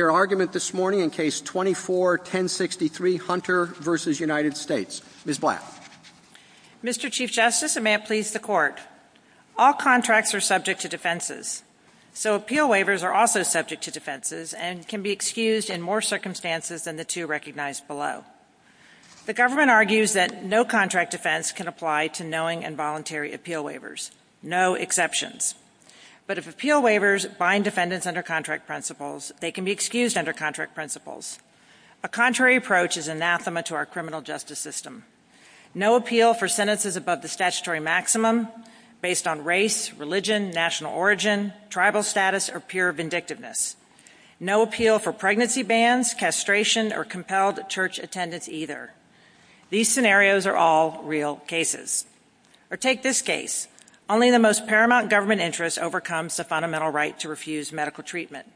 their argument this morning in Case 24-1063, Hunter v. United States. Ms. Black. Mr. Chief Justice, and may it please the Court, all contracts are subject to defenses, so appeal waivers are also subject to defenses and can be excused in more circumstances than the two recognized below. The government argues that no contract defense can apply to knowing involuntary appeal waivers, no exceptions. But if appeal waivers bind defendants under contract principles, they can be excused under contract principles. A contrary approach is anathema to our criminal justice system. No appeal for sentences above the statutory maximum based on race, religion, national origin, tribal status, or peer vindictiveness. No appeal for pregnancy bans, castration, or compelled church attendance either. These scenarios are all real cases. Or take this case. Only the most paramount government interest overcomes the fundamental right to refuse medical treatment.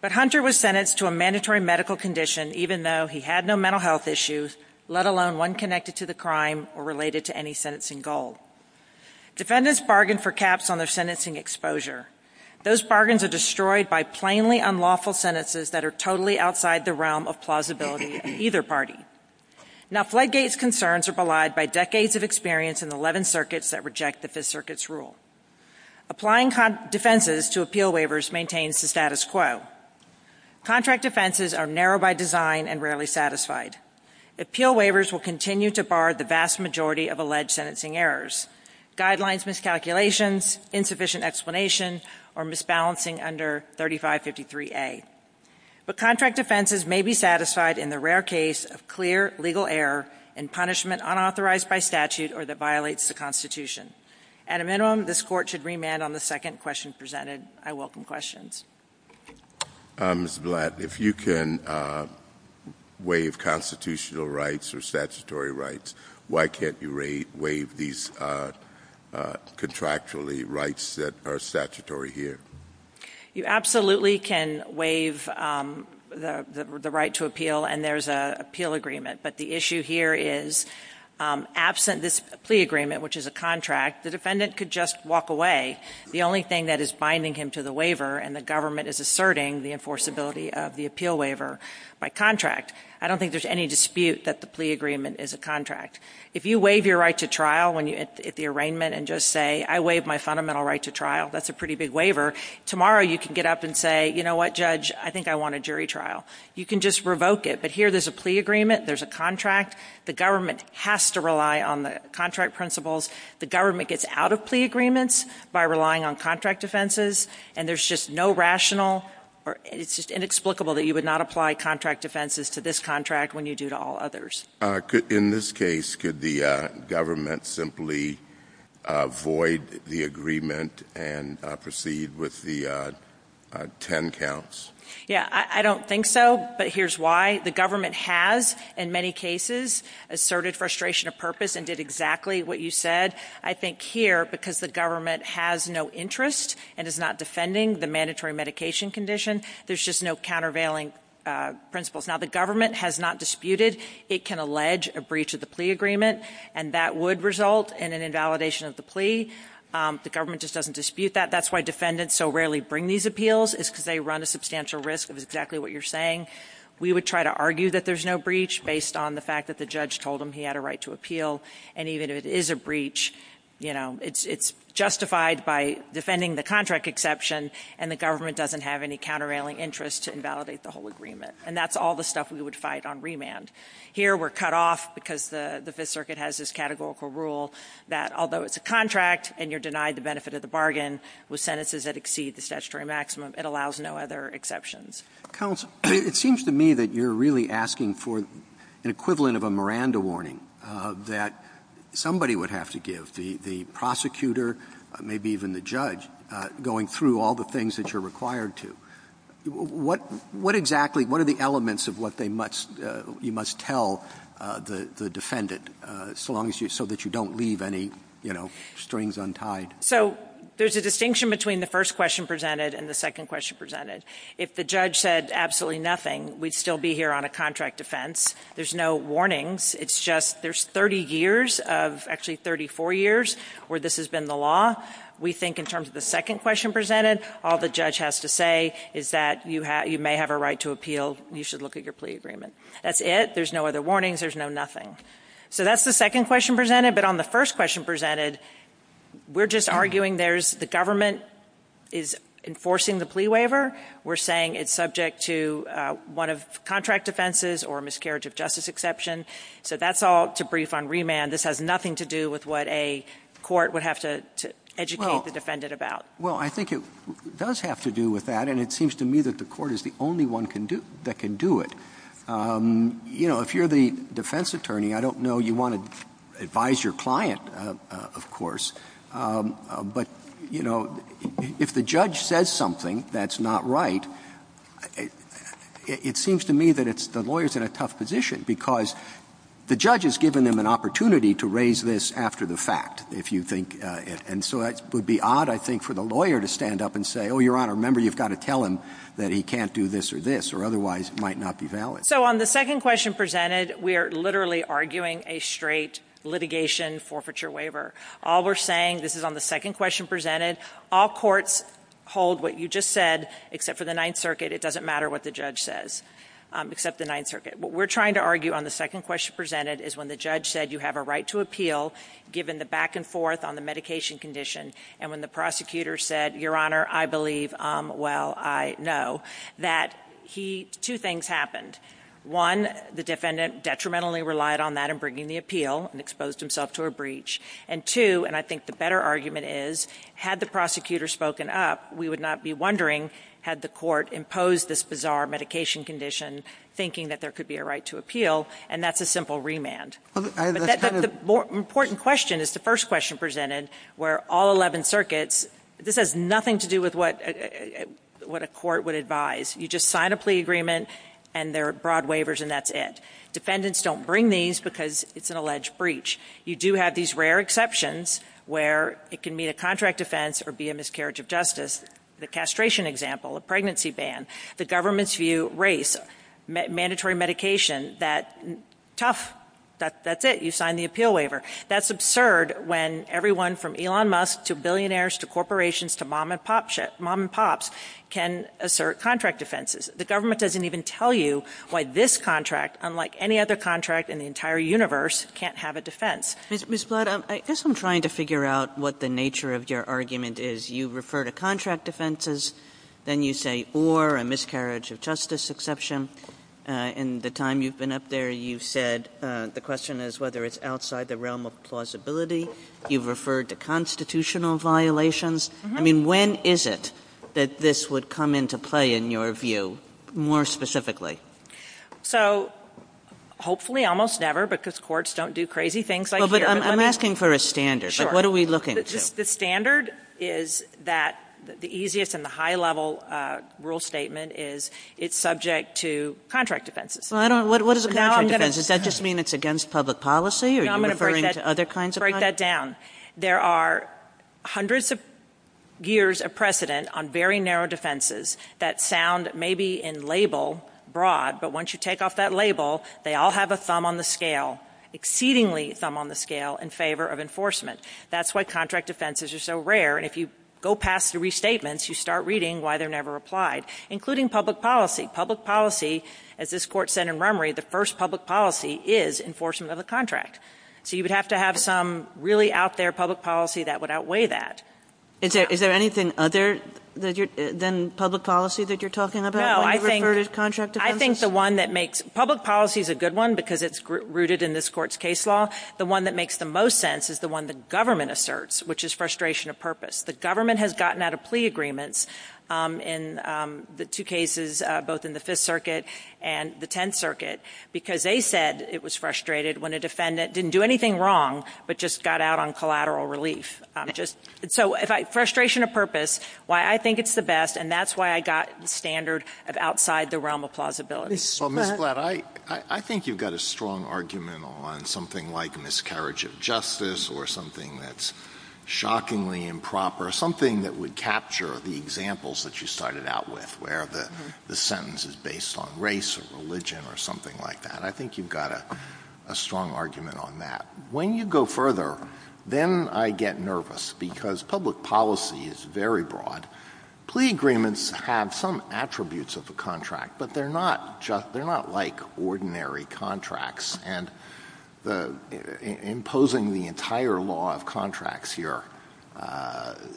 But Hunter was sentenced to a mandatory medical condition even though he had no mental health issues, let alone one connected to the crime or related to any sentencing goal. Defendants bargained for caps on their sentencing exposure. Those bargains are destroyed by plainly unlawful sentences that are totally outside the realm of plausibility in either party. Now, Fledgate's concerns are belied by decades of experience in the 11 circuits that reject that this circuit's unlawful. Applying defenses to appeal waivers maintains the status quo. Contract defenses are narrow by design and rarely satisfied. Appeal waivers will continue to bar the vast majority of alleged sentencing errors. Guidelines, miscalculations, insufficient explanations, or misbalancing under 3553A. But contract defenses may be satisfied in the rare case of clear legal error and punishment unauthorized by statute or that violates the Constitution. At a minimum, this Court should remand on the second question presented. I welcome questions. Mr. Blatt, if you can waive constitutional rights or statutory rights, why can't you waive these contractually rights that are statutory here? You absolutely can waive the right to appeal, and there's an appeal agreement. But the issue here is absent this plea agreement, which is a contract, the defendant could just walk away. The only thing that is binding him to the waiver and the government is asserting the enforceability of the appeal waiver by contract. I don't think there's any dispute that the plea agreement is a contract. If you waive your right to trial at the arraignment and just say, I waive my fundamental right to trial, that's a pretty big waiver. Tomorrow you can get up and say, you know what, Judge, I think I want a jury trial. You can just revoke it. But here there's a plea agreement, there's a contract. The government has to rely on the contract principles. The government gets out of plea agreements by relying on contract offenses, and there's just no rational or it's just inexplicable that you would not apply contract offenses to this contract when you do to all others. In this case, could the government simply void the agreement and proceed with the ten counts? Yeah, I don't think so, but here's why. The government has, in many cases, asserted frustration of purpose and did exactly what you said. I think here, because the government has no interest and is not defending the mandatory medication condition, there's just no countervailing principles. Now, the government has not disputed. It can allege a breach of the plea agreement, and that would result in an invalidation of the plea. The government just doesn't dispute that. That's why defendants so rarely bring these appeals is because they run a substantial risk of exactly what you're saying. We would try to argue that there's no breach based on the fact that the judge told him he had a right to appeal, and even if it is a breach, it's justified by defending the contract exception, and the government doesn't have any countervailing interest to invalidate the whole agreement. And that's all the stuff we would fight on remand. Here we're cut off because the Fifth Circuit has this categorical rule that although it's a contract and you're denied the benefit of the bargain with sentences that exceed the statutory maximum, it allows no other exceptions. Counsel, it seems to me that you're really asking for an equivalent of a Miranda warning that somebody would have to give, the prosecutor, maybe even the judge, going through all the things that you're required to. What exactly, what are the elements of what they must, you know, defend it so that you don't leave any, you know, strings untied? So there's a distinction between the first question presented and the second question presented. If the judge said absolutely nothing, we'd still be here on a contract offense. There's no warnings. It's just there's 30 years of actually 34 years where this has been the law. We think in terms of the second question presented, all the judge has to say is that you may have a right to appeal. You should look at your plea agreement. That's it. There's no other warnings. There's no nothing. So that's the second question presented. But on the first question presented, we're just arguing there's the government is enforcing the plea waiver. We're saying it's subject to one of contract offenses or a miscarriage of justice exception. So that's all to brief on remand. This has nothing to do with what a court would have to educate the defendant about. Well, I think it does have to do with that, and it seems to me that the court is the only one that can do it. You know, if you're the defense attorney, I don't know you want to advise your client, of course. But, you know, if the judge says something that's not right, it seems to me that the lawyer's in a tough position because the judge has given them an opportunity to raise this after the fact, if you think. And so it would be odd, I think, for the lawyer to stand up and say, oh, Your Honor, remember you've got to tell him that he can't do this or this, or otherwise it might not be valid. So on the second question presented, we are literally arguing a straight litigation forfeiture waiver. All we're saying, this is on the second question presented, all courts hold what you just said, except for the Ninth Circuit. It doesn't matter what the judge says, except the Ninth Circuit. What we're trying to argue on the second question presented is when the judge said you have a right to appeal, given the back and forth on the medication condition, and when the prosecutor said, Your Honor, I believe, well, I know, that he, two things happened. One, the defendant detrimentally relied on that in bringing the appeal and exposed himself to a breach. And two, and I think the better argument is, had the prosecutor spoken up, we would not be wondering had the court imposed this bizarre medication condition thinking that there could be a right to appeal, and that's a simple remand. But that's the important question, is the first question presented, where all 11 circuits, this has nothing to do with what a court would advise. You just sign a plea agreement and there are broad waivers and that's it. Defendants don't bring these because it's an alleged breach. You do have these rare exceptions where it can be a contract offense or be a miscarriage of justice. The castration example, a pregnancy ban, the government's view, race, sex, mandatory medication, that tough, that's it, you sign the appeal waiver. That's absurd when everyone from Elon Musk to billionaires to corporations to mom and pops can assert contract offenses. The government doesn't even tell you why this contract, unlike any other contract in the entire universe, can't have a defense. Ms. Blood, I guess I'm trying to figure out what the nature of your argument is. You refer to contract offenses, then you say, or a miscarriage of justice exception. In the time you've been up there, you've said the question is whether it's outside the realm of plausibility. You've referred to constitutional violations. I mean, when is it that this would come into play in your view, more specifically? So hopefully almost never, because courts don't do crazy things like this. Well, but I'm asking for a standard, but what are we looking to? The standard is that the easiest and the high-level rule statement is it's subject to contract offenses. What is a contract offense? Does that just mean it's against public policy, or are you referring to other kinds of contracts? No, I'm going to break that down. There are hundreds of years of precedent on very narrow defenses that sound maybe in label broad, but once you take off that label, they all have a thumb on the scale, exceedingly thumb on the scale in favor of enforcement. That's why contract offenses are so rare, and if you go past the restatements, you start reading why they're never applied, including public policy. Public policy, as this court said in Rummery, the first public policy is enforcement of a contract. So you would have to have some really out there public policy that would outweigh that. Is there anything other than public policy that you're talking about when you refer to contract offenses? No, I think the one that makes – public policy is a good one because it's rooted in this court's case law. The one that makes the most sense is the one the government asserts, which is frustration of purpose. The government has gotten out of plea agreements in the two cases, both in the Fifth Circuit and the Tenth Circuit, because they said it was frustrated when a defendant didn't do anything wrong, but just got out on collateral relief. So frustration of purpose, why I think it's the best, and that's why I got the standard of outside the realm of plausibility. So, Ms. Blatt, I think you've got a strong argument on something like miscarriage of justice or something that's shockingly improper, something that would capture the examples that you started out with, where the sentence is based on race or religion or something like that. I think you've got a strong argument on that. When you go further, then I get nervous because public policy is very broad. Plea agreements have some attributes of a contract, but they're not like ordinary contracts. And imposing the entire law of contracts here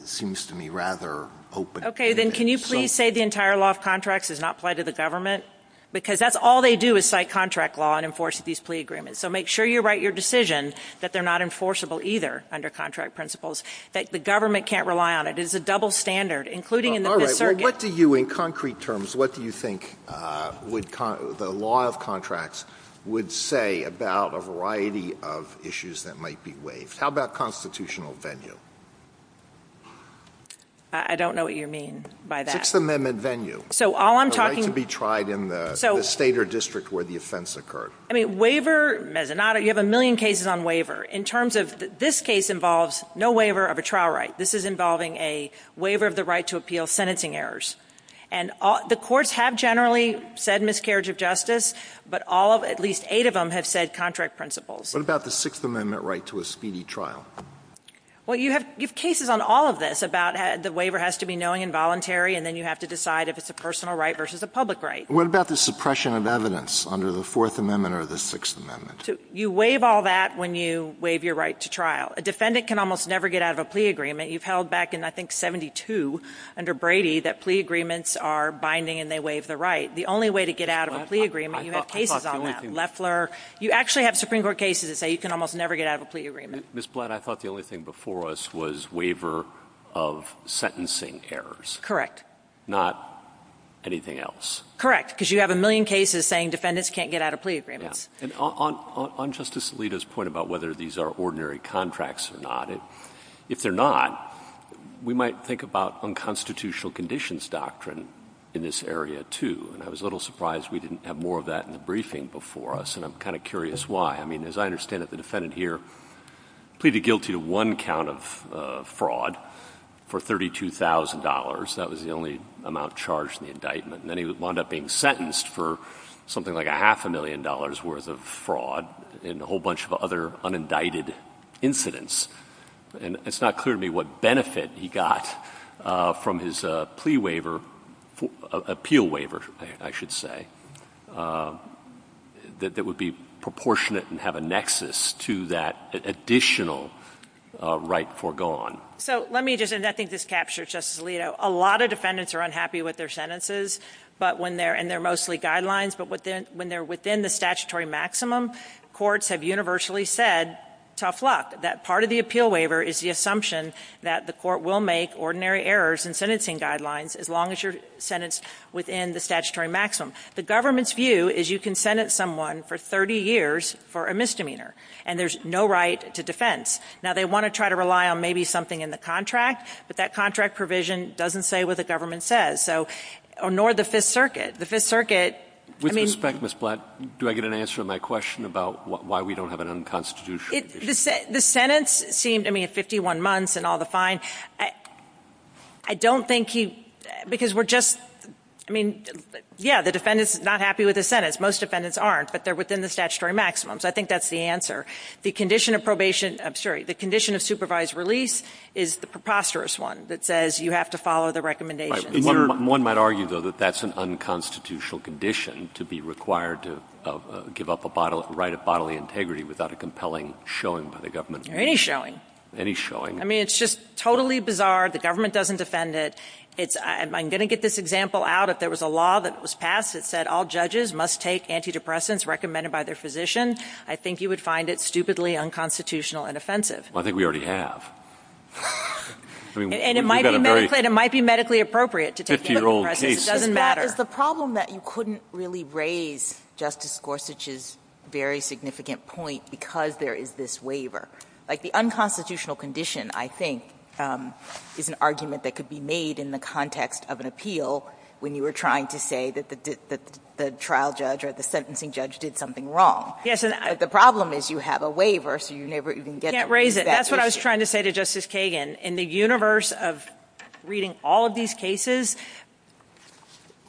seems to me rather open. Okay, then can you please say the entire law of contracts does not apply to the government? Because that's all they do is cite contract law and enforce these plea agreements. So make sure you write your decision that they're not enforceable either under contract principles, that the government can't rely on it. It's a double standard, including in the Fifth Circuit. All right. Well, what do you, in concrete terms, what do you think the law of contracts would say about a variety of issues that might be waived? How about constitutional venue? I don't know what you mean by that. Sixth Amendment venue. So all I'm talking... The right to be tried in the state or district where the offense occurred. I mean, waiver, you have a million cases on waiver. In terms of this case involves no waiver of a trial right. This is involving a waiver of the right to appeal sentencing errors. And the courts have generally said miscarriage of justice, but all of, at least eight of them, have said contract principles. What about the Sixth Amendment right to a speedy trial? Well, you have cases on all of this about the waiver has to be knowing and voluntary, and then you have to decide if it's a personal right versus a public right. What about the suppression of evidence under the Fourth Amendment or the Sixth Amendment? You waive all that when you waive your right to trial. A defendant can almost never get out of a plea agreement. You've held back in, I think, 72 under Brady that plea agreements are binding and they waive the right. The only way to get out of a plea agreement, you have cases on that. Loeffler. You actually have Supreme Court cases that say you can almost never get out of a plea agreement. Ms. Blatt, I thought the only thing before us was waiver of sentencing errors. Correct. Not anything else. Correct, because you have a million cases saying defendants can't get out of plea agreements. On Justice Alito's point about whether these are ordinary contracts or not, if they're not, we might think about unconstitutional conditions doctrine in this area, too. I was a little surprised we didn't have more of that in the briefing before us, and I'm kind of curious why. I mean, as I understand it, the defendant here pleaded guilty to one count of fraud for $32,000. That was the only amount charged in the indictment. Then he wound up being sentenced for something like a half a million dollars worth of fraud and a whole bunch of other unindicted incidents. And it's not clear to me what benefit he got from his plea waiver, appeal waiver, I should say, that would be proportionate and have a nexus to that additional right foregone. So let me just, and I think this captures Justice Alito, a lot of defendants are unhappy with their sentences, and they're mostly guidelines, but when they're within the statutory maximum, courts have universally said, tough luck, that part of the appeal waiver is the assumption that the court will make ordinary errors in sentencing guidelines as long as you're sentenced within the statutory maximum. The government's view is you can sentence someone for 30 years for a misdemeanor, and there's no right to defense. Now, they want to try to rely on maybe something in the contract, but that contract provision doesn't say what the government says, so, nor the Fifth Circuit. The Fifth Circuit, I mean— With respect, Ms. Blatt, do I get an answer to my question about why we don't have an unconstitutional— The sentence seemed, I mean, 51 months and all the fine. I don't think he, because we're just, I mean, yeah, the defendant's not happy with the sentence. Most defendants aren't, but they're within the statutory maximum, so I think that's the answer. The condition of probation, I'm sorry, the condition of supervised release is the preposterous one that says you have to follow the recommendations. One might argue, though, that that's an unconstitutional condition to be required to give up a right of bodily integrity without a compelling showing by the government. Any showing. Any showing. I mean, it's just totally bizarre. The government doesn't defend it. I'm going to get this example out. If there was a law that was passed that said all judges must take antidepressants recommended by their physician, I think you would find it stupidly unconstitutional and I think we already have. And it might be medically appropriate to take antidepressants. It doesn't matter. That is the problem, that you couldn't really raise Justice Gorsuch's very significant point because there is this waiver. Like, the unconstitutional condition, I think, is an argument that could be made in the context of an appeal when you were trying to say that the trial judge or the sentencing judge did something wrong. Yes. The problem is you have a waiver, so you never even get back to it. You can't raise it. That's what I was trying to say to Justice Kagan. In the universe of reading all of these cases,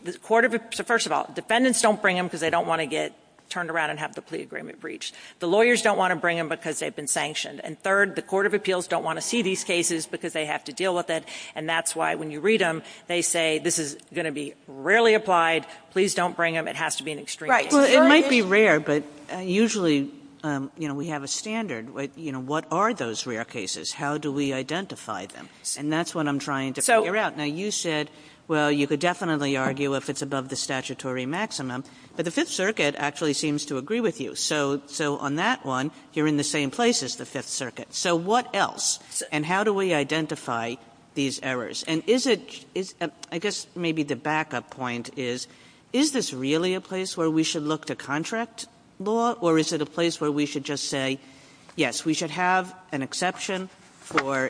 the Court of Appeals, first of all, defendants don't bring them because they don't want to get turned around and have the plea agreement breached. The lawyers don't want to bring them because they've been sanctioned. And third, the Court of Appeals don't want to see these cases because they have to deal with it and that's why when you read them, they say this is going to be rarely applied. Please don't bring them. It has to be an extreme case. It might be rare, but usually we have a standard. What are those rare cases? How do we identify them? And that's what I'm trying to figure out. Now, you said, well, you could definitely argue if it's above the statutory maximum, but the Fifth Circuit actually seems to agree with you. So on that one, you're in the same place as the Fifth Circuit. So what else? And how do we identify these errors? And I guess maybe the backup point is, is this really a place where we should look to contract law or is it a place where we should just say, yes, we should have an exception for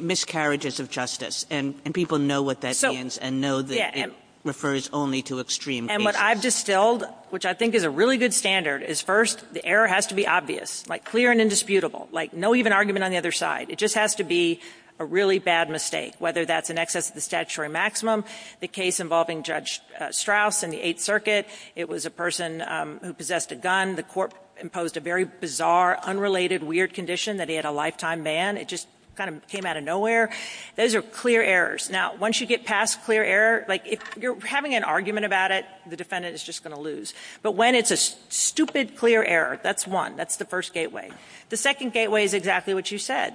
miscarriages of justice? And people know what that means and know that it refers only to extreme cases. And what I've distilled, which I think is a really good standard, is first, the error has to be obvious, like clear and indisputable, like no even argument on the other side. It just has to be a really bad mistake, whether that's in excess of the statutory maximum, the case involving Judge Strauss in the Eighth Circuit. It was a person who possessed a gun. The court imposed a very bizarre, unrelated, weird condition that he had a lifetime ban. It just kind of came out of nowhere. Those are clear errors. Now, once you get past clear error, like if you're having an argument about it, the defendant is just going to lose. But when it's a stupid clear error, that's one. That's the first gateway. The second gateway is exactly what you said.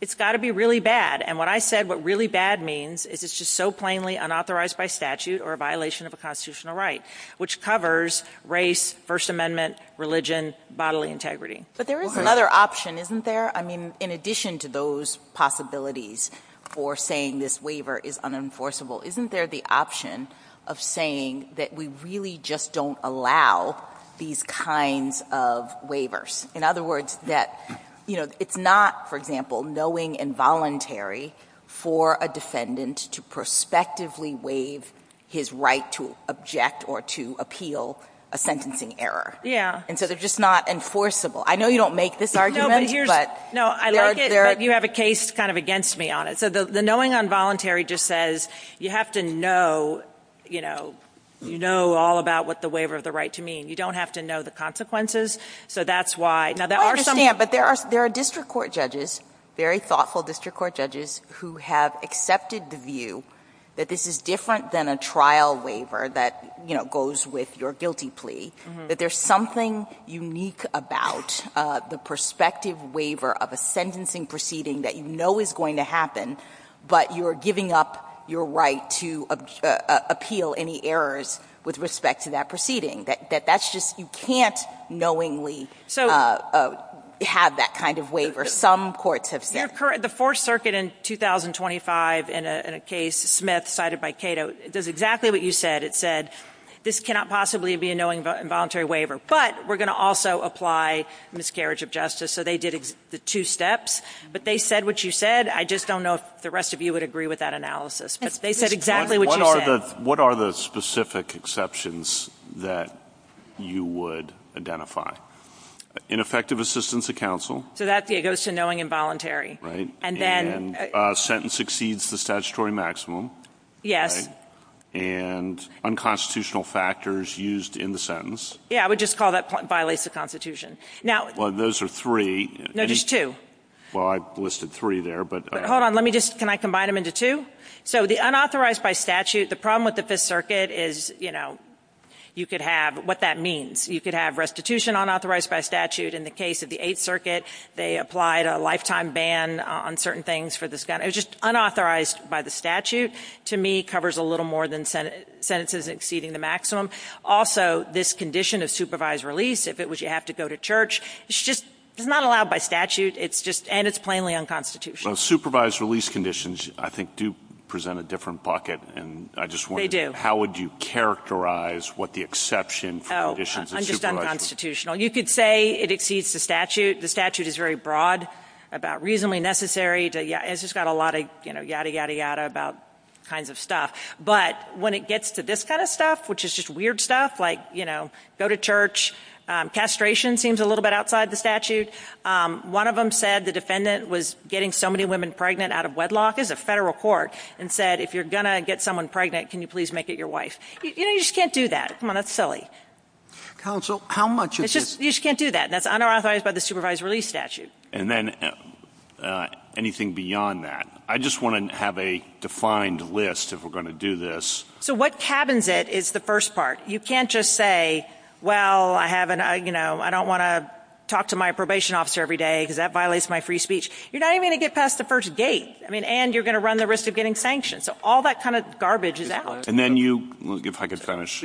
It's got to be really bad. And what I said, what really bad means is it's just so plainly unauthorized by statute or a violation of a constitutional right, which covers race, First Amendment, religion, bodily integrity. But there is another option, isn't there? I mean, in addition to those possibilities for saying this waiver is unenforceable, isn't there the option of saying that we really just don't allow these kinds of waivers? In other words, that it's not, for example, knowing involuntary for a defendant to prospectively waive his right to object or to appeal a sentencing error. And so they're just not enforceable. I know you don't make this argument, but... No, I like it that you have a case kind of against me on it. So the knowing involuntary just says you have to know, you know, you know all about what the waiver of the right to me. And you don't have to know the consequences. So that's why... I understand, but there are district court judges, very thoughtful district court judges, who have accepted the view that this is different than a trial waiver that, you know, goes with your guilty plea. That there's something unique about the prospective waiver of a sentencing proceeding that you know is going to happen, but you're giving up your right to appeal any errors with respect to that proceeding. That that's just, you can't knowingly have that kind of waiver. Some courts have said... The Fourth Circuit in 2025 in a case, Smith cited by Cato, does exactly what you said. It said, this cannot possibly be a knowing involuntary waiver, but we're going to also apply miscarriage of justice. So they did the two steps, but they said what you said. I just don't know if the rest of you would agree with that analysis. They said exactly what you said. What are the specific exceptions that you would identify? Ineffective assistance to counsel. So that goes to knowing involuntary. And then... Sentence exceeds the statutory maximum. Yes. And unconstitutional factors used in the sentence. Yeah, I would just call that violates the Constitution. Well, those are three. No, there's two. Well, I listed three there, but... Hold on, let me just... Can I combine them into two? So the unauthorized by statute, the problem with the Fifth Circuit is, you know, you could have... What that means. You could have restitution unauthorized by statute. In the case of the Eighth Circuit, they applied a lifetime ban on certain things for this kind of... It was just unauthorized by the statute. To me, covers a little more than sentences exceeding the maximum. Also, this condition of supervised release, if it was you have to go to church, it's just not allowed by statute. It's just... And it's plainly unconstitutional. So supervised release conditions, I think, do present a different bucket. And I just wonder... How would you characterize what the exception for conditions of supervision... Oh, I'm just unconstitutional. You could say it exceeds the statute. The statute is very broad about reasonably necessary. It's just got a lot of yada, yada, yada about kinds of stuff. But when it gets to this kind of stuff, which is just weird stuff, like, you know, go to church, castration seems a little bit outside the statute. One of them said the defendant was getting so many women pregnant out of wedlock as a federal court and said, if you're going to get someone pregnant, can you please make it your wife? You know, you just can't do that. Come on. That's silly. Counsel, how much of this... You just can't do that. And that's unauthorized by the supervised release statute. And then anything beyond that? I just want to have a defined list if we're going to do this. So what cabins it is the first part. You can't just say, well, I don't want to talk to my probation officer every day because that violates my free speech. You're not even going to get past the first gate, and you're going to run the risk of getting sanctioned. So all that kind of garbage is out. And then you, if I could finish,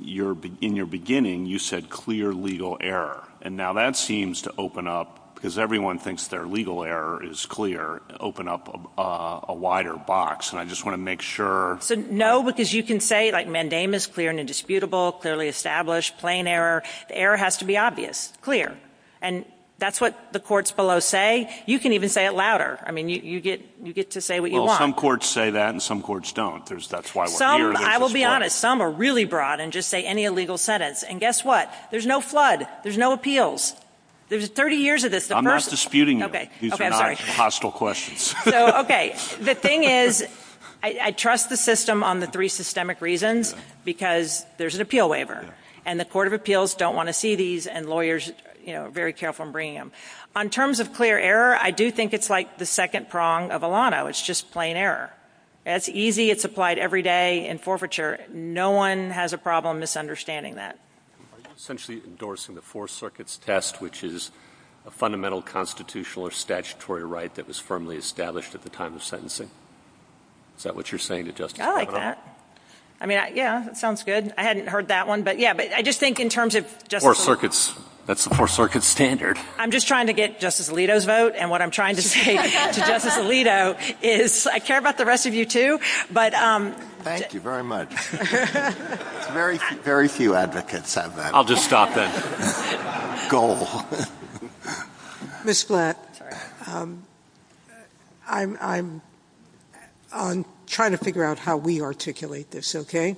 in your beginning, you said clear legal error. And now that seems to open up, because everyone thinks their legal error is clear, open up a wider box. And I just want to make sure. No, because you can say, like, mandamus, clear and indisputable, clearly established, plain error. The error has to be obvious, clear. And that's what the courts below say. You can even say it louder. I mean, you get to say what you want. Well, some courts say that, and some courts don't. That's why we're here. I will be honest. Some are really broad and just say any illegal sentence. And guess what? There's no flood. There's no appeals. There's 30 years of this. I'm not disputing you. These are not hostile questions. So, okay. The thing is, I trust the system on the three systemic reasons, because there's an appeal waiver. And the court of appeals don't want to see these, and lawyers, you know, are very careful in bringing them. On terms of clear error, I do think it's, like, the second prong of a lot of it's just plain error. It's easy. It's applied every day in forfeiture. No one has a problem misunderstanding that. Essentially endorsing the Fourth Circuit's test, which is a fundamental constitutional or statutory right that was firmly established at the time of sentencing. Is that what you're saying to Justice Alito? I like that. I mean, yeah. That sounds good. I hadn't heard that one. But, yeah. But I just think in terms of Justice Alito. Fourth Circuit's. That's the Fourth Circuit's standard. I'm just trying to get Justice Alito's vote. And what I'm trying to say to Justice Alito is I care about the rest of you, too, but — Thank you very much. Very few advocates have that. I'll just stop there. Goal. Ms. Black. I'm trying to figure out how we articulate this, okay?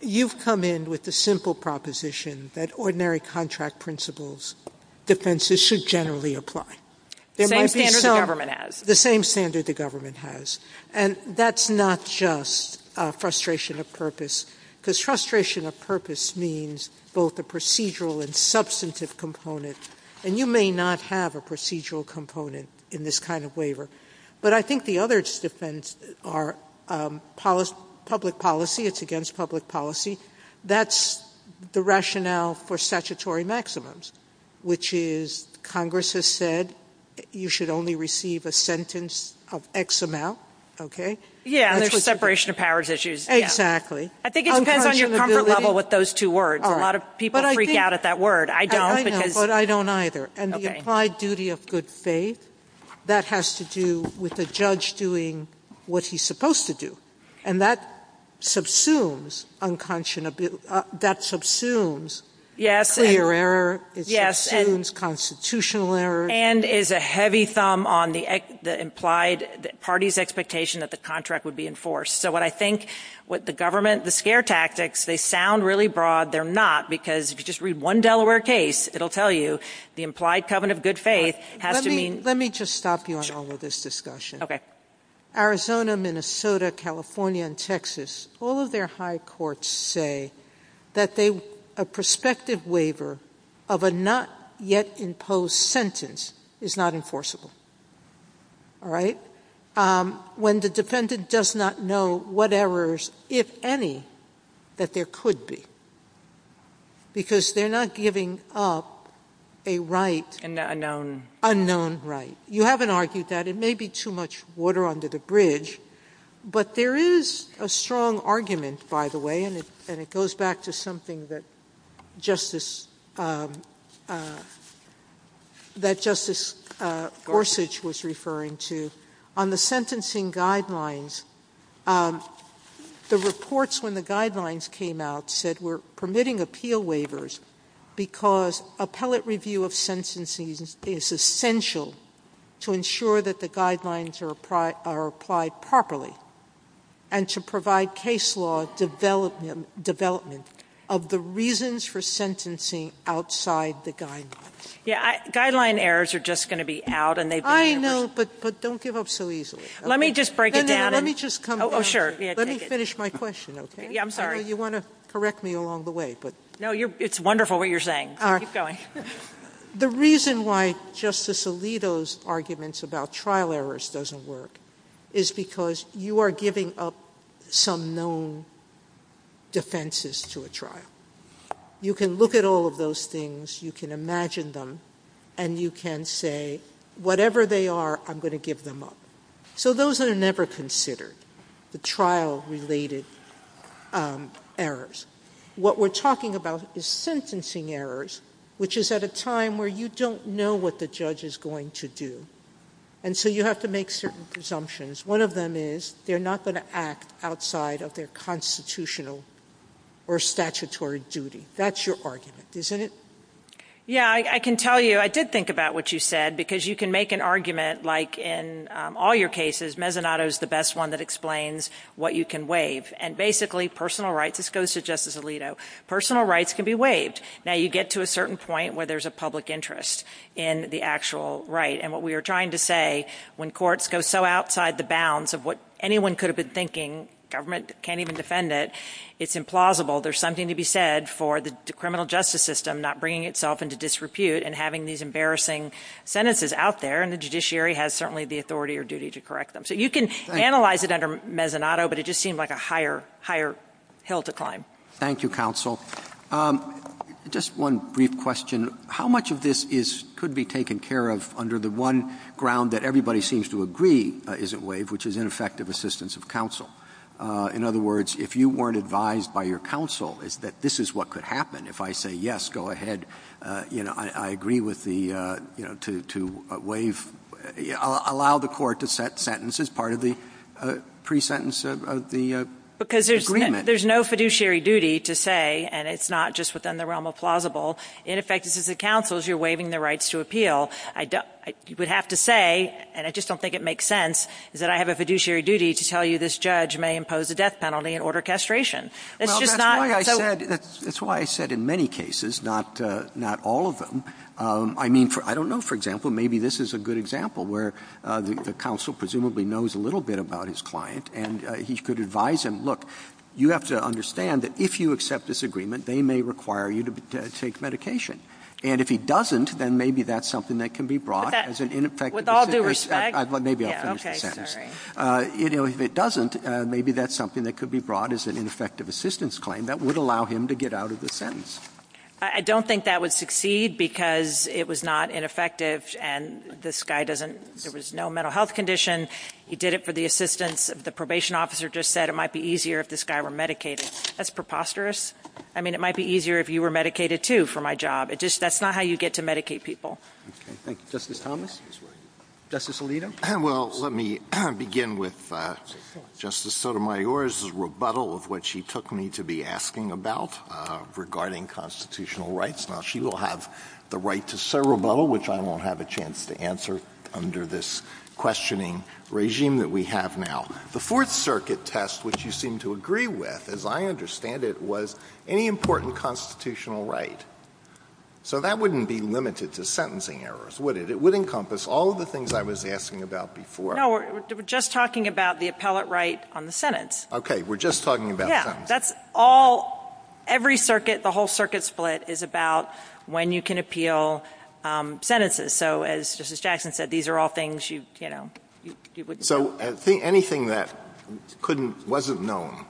You've come in with the simple proposition that ordinary contract principles, defenses should generally apply. There might be some — The same standard the government has. The same standard the government has. And that's not just frustration of purpose. Because frustration of purpose means both the procedural and substantive components. And you may not have a procedural component in this kind of waiver. But I think the other defense are public policy. It's against public policy. That's the rationale for statutory maximums, which is Congress has said you should only receive a sentence of X amount, okay? Yeah, for separation of powers issues. Exactly. I think it depends on your comfort level with those two words. A lot of people freak out at that word. I don't. But I don't either. And the applied duty of good faith, that has to do with a judge doing what he's supposed to do. And that subsumes unclear — that subsumes clear error. It subsumes constitutional error. And is a heavy thumb on the implied party's expectation that the contract would be enforced. So what I think what the government — the scare tactics, they sound really broad. They're not. Because if you just read one Delaware case, it'll tell you the implied covenant of good faith has to mean — Let me just stop you on all of this discussion. Arizona, Minnesota, California, and Texas, all of their high courts say that a prospective waiver of a not yet imposed sentence is not enforceable. All right? When the defendant does not know what errors, if any, that there could be. Because they're not giving up a right — Unknown right. You haven't argued that. It may be too much water under the bridge. But there is a strong argument, by the way, and it goes back to something that Justice Gorsuch was referring to, on the sentencing guidelines, the reports when the guidelines came out said we're permitting appeal waivers because appellate review of sentencing is essential to ensure that the guidelines are applied properly and to provide case law development of the reasons for sentencing outside the guidelines. Yeah. Guideline errors are just going to be out. I know, but don't give up so easily. Let me just break it down. Let me just come — Oh, sure. Let me finish my question, okay? Yeah, I'm sorry. You want to correct me along the way, but — No, it's wonderful what you're saying. Keep going. The reason why Justice Alito's arguments about trial errors doesn't work is because you are giving up some known defenses to a trial. You can look at all of those things. You can imagine them, and you can say, whatever they are, I'm going to give them up. So those are never considered, the trial-related errors. What we're talking about is sentencing errors, which is at a time where you don't know what the judge is going to do, and so you have to make certain presumptions. One of them is they're not going to act outside of their constitutional or statutory duty. That's your argument, isn't it? Yeah, I can tell you, I did think about what you said, because you can make an argument, like in all your cases, Mezzanotto's the best one that explains what you can waive. And basically, personal rights — this goes to Justice Alito — personal rights can be waived. Now, you get to a certain point where there's a public interest in the actual right. And what we are trying to say, when courts go so outside the bounds of what anyone could have been thinking, government can't even defend it, it's implausible. There's something to be said for the criminal justice system not bringing itself into disrepute and having these embarrassing sentences out there, and the judiciary has certainly the authority or duty to correct them. So you can analyze it under Mezzanotto, but it just seems like a higher hill to climb. Thank you, counsel. Just one brief question. How much of this could be taken care of under the one ground that everybody seems to agree isn't waived, which is ineffective assistance of counsel? In other words, if you weren't advised by your counsel that this is what could happen, if I say, yes, go ahead, I agree with the — to waive — allow the court to set sentences part of the pre-sentence of the agreement. Because there's no fiduciary duty to say, and it's not just within the realm of plausible. In effect, this is the counsel's who are waiving the rights to appeal. You would have to say, and I just don't think it makes sense, that I have a fiduciary duty to tell you this judge may impose a death penalty and order castration. It's just not — That's why I said in many cases, not all of them — I mean, I don't know, for example, maybe this is a good example where the counsel presumably knows a little bit about his client and he could advise him, look, you have to understand that if you accept this agreement, they may require you to take medication. And if he doesn't, then maybe that's something that can be brought as an ineffective — With all due respect — Maybe I'll finish my sentence. If it doesn't, maybe that's something that could be brought as an ineffective assistance claim that would allow him to get out of the sentence. I don't think that would succeed because it was not ineffective and this guy doesn't — there was no mental health condition. He did it for the assistance. The probation officer just said it might be easier if this guy were medicated. That's preposterous. I mean, it might be easier if you were medicated, too, for my job. It just — that's not how you get to medicate people. Thank you. Justice Thomas? Justice Alito? Well, let me begin with Justice Sotomayor's rebuttal of what she took me to be asking about regarding constitutional rights. Now, she will have the right to serve a rebuttal, which I won't have a chance to answer under this questioning regime that we have now. The Fourth Circuit test, which you seem to agree with, as I understand it, was any important constitutional right. So that wouldn't be limited to sentencing errors, would it? It would encompass all of the things I was asking about before. No, we're just talking about the appellate right on the sentence. Okay, we're just talking about that. Yeah, that's all — every circuit, the whole circuit split, is about when you can appeal sentences. So as Justice Jackson said, these are all things you, you know — So anything that wasn't known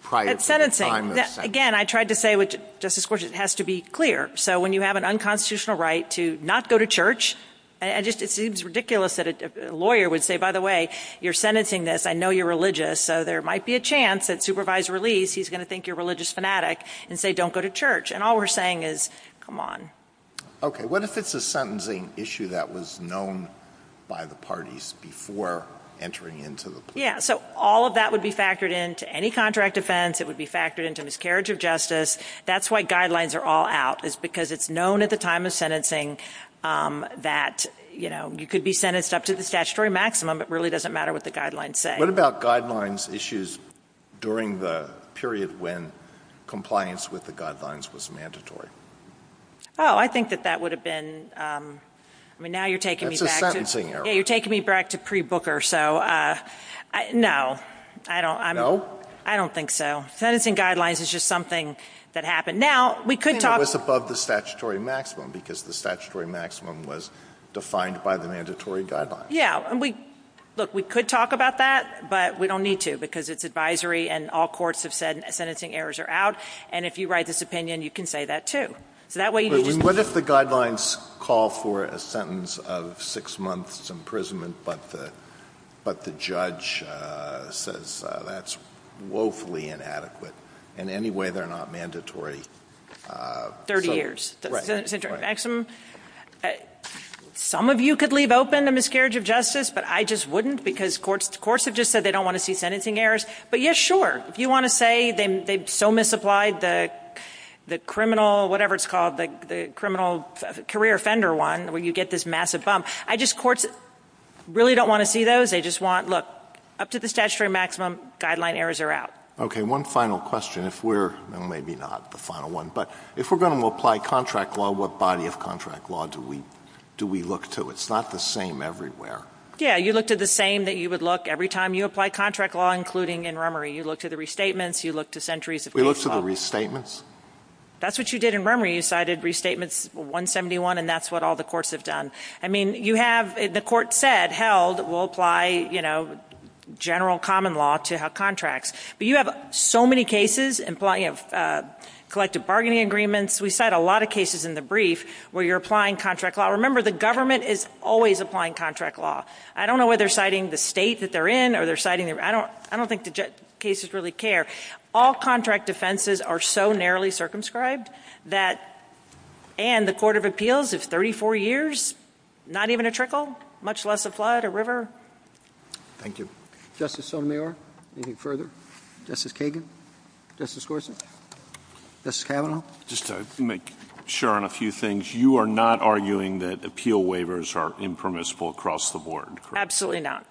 prior to the time of sentence. Again, I tried to say with Justice Gorsuch, it has to be clear. So when you have an unconstitutional right to not go to church, it just seems ridiculous that a lawyer would say, by the way, you're sentencing this, I know you're religious, so there might be a chance that Supervisor Lee, he's going to think you're a religious fanatic, and say don't go to church. And all we're saying is, come on. Okay, what if it's a sentencing issue that was known by the parties before entering into the court? Yeah, so all of that would be factored into any contract offense. It would be factored into miscarriage of justice. That's why guidelines are all out, is because it's known at the time of sentencing that, you know, you could be sentenced up to the statutory maximum. It really doesn't matter what the guidelines say. What about guidelines issues during the period when compliance with the guidelines was mandatory? Oh, I think that that would have been — I mean, now you're taking me back — That's a sentencing error. Yeah, you're taking me back to pre-Booker, so — no. No? I don't think so. Sentencing guidelines is just something that happened. Now, we could talk — It was above the statutory maximum, because the statutory maximum was defined by the mandatory guidelines. Yeah, and we — look, we could talk about that, but we don't need to, because it's advisory, and all courts have said sentencing errors are out. And if you write this opinion, you can say that, too. So that way — What if the guidelines call for a sentence of six months' imprisonment, but the judge says that's woefully inadequate? In any way, they're not mandatory. Thirty years. Right. Some of you could leave open a miscarriage of justice, but I just wouldn't, because courts have just said they don't want to see sentencing errors. But, yeah, sure. Do you want to say they so misapplied the criminal — whatever it's called, the criminal career offender one, where you get this massive bump? I just — courts really don't want to see those. They just want — look, up to the statutory maximum, guideline errors are out. Okay, one final question. If we're — no, maybe not the final one, but if we're going to apply contract law, what body of contract law do we look to? It's not the same everywhere. Yeah, you look to the same that you would look every time you apply contract law, including in Rummery. You look to the restatements. You look to centuries of case law. We look to the restatements. That's what you did in Rummery. You cited Restatements 171, and that's what all the courts have done. I mean, you have — the court said, held, we'll apply, you know, general common law to contracts. But you have so many cases. You have collective bargaining agreements. We cite a lot of cases in the brief where you're applying contract law. Remember, the government is always applying contract law. I don't know whether they're citing the state that they're in or they're citing — I don't think the cases really care. All contract offenses are so narrowly circumscribed that — and the Court of Appeals is 34 years, not even a trickle, much less a flood, a river. Thank you. Justice O'Meara, anything further? Justice Kagan? Justice Gorsuch? Justice Kavanaugh? Just to share on a few things. You are not arguing that appeal waivers are impermissible across the board, correct? Absolutely not.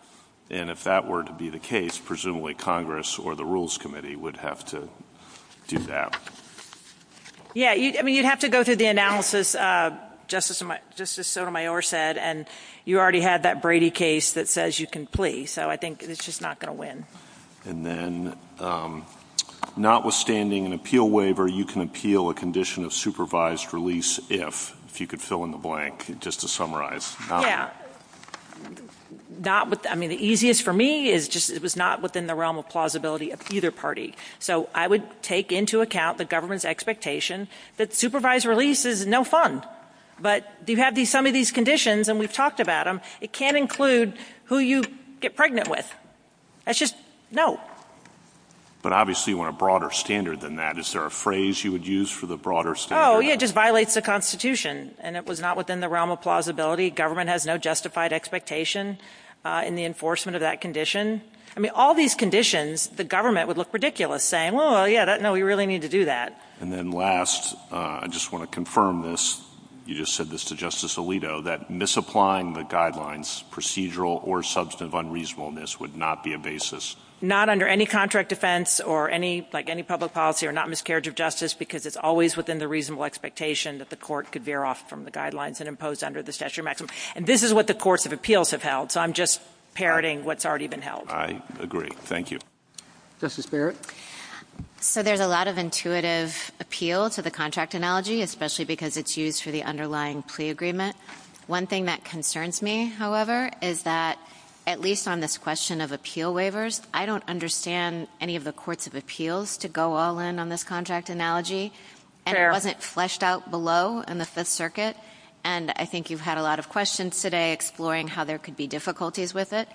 And if that were to be the case, presumably Congress or the Rules Committee would have to do that. Yeah. I mean, you'd have to go through the analysis, Justice Sotomayor said, and you already have that Brady case that says you can plea. So I think it's just not going to win. And then notwithstanding an appeal waiver, you can appeal a condition of supervised release if, if you could fill in the blank, just to summarize. I mean, the easiest for me is just it was not within the realm of plausibility of either party. So I would take into account the government's expectation that supervised release is no fun. But you have some of these conditions, and we've talked about them. It can't include who you get pregnant with. That's just no. But obviously you want a broader standard than that. Is there a phrase you would use for the broader standard? Oh, yeah, it just violates the Constitution. And it was not within the realm of plausibility. Government has no justified expectation in the enforcement of that condition. I mean, all these conditions, the government would look ridiculous saying, well, yeah, no, we really need to do that. And then last, I just want to confirm this. You just said this to Justice Alito, that misapplying the guidelines, procedural or substantive unreasonableness, would not be a basis. Not under any contract defense or any, like any public policy, or not miscarriage of justice, because it's always within the reasonable expectation that the court could veer off from the guidelines and impose under the statutory maximum. And this is what the courts of appeals have held. So I'm just parroting what's already been held. I agree. Thank you. Justice Barrett? So there's a lot of intuitive appeal to the contract analogy, especially because it's used for the underlying pre-agreement. One thing that concerns me, however, is that at least on this question of appeal waivers, I don't understand any of the courts of appeals to go all in on this contract analogy. And it wasn't fleshed out below in the Fifth Circuit. And I think you've had a lot of questions today exploring how there could be difficulties with it.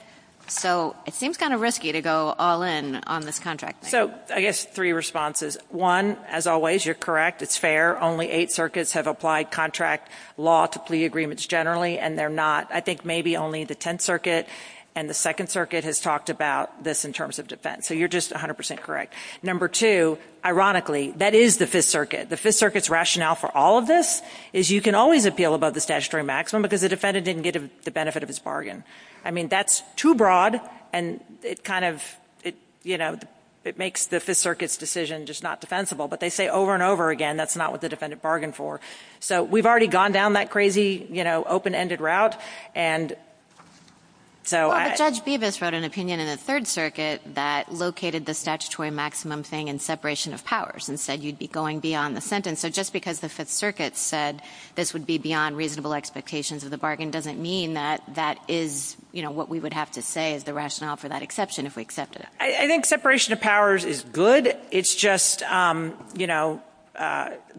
So it seems kind of risky to go all in on this contract thing. So I guess three responses. One, as always, you're correct. It's fair. Only eight circuits have applied contract law to pre-agreements generally, and they're not, I think, maybe only the Tenth Circuit and the Second Circuit has talked about this in terms of defense. So you're just 100% correct. Number two, ironically, that is the Fifth Circuit. The Fifth Circuit's rationale for all of this is you can always appeal above the statutory maximum because the defendant didn't get the benefit of his bargain. I mean, that's too broad, and it kind of, you know, it makes the Fifth Circuit's decision just not defensible. But they say over and over again that's not what the defendant bargained for. So we've already gone down that crazy, you know, open-ended route, and so I — Well, Judge Bevis wrote an opinion in the Third Circuit that located the statutory maximum thing in separation of powers and said you'd be going beyond the sentence. So just because the Fifth Circuit said this would be beyond reasonable expectations of the bargain doesn't mean that that is, you know, what we would have to say is the rationale for that exception if we accepted it. I think separation of powers is good. It's just, you know,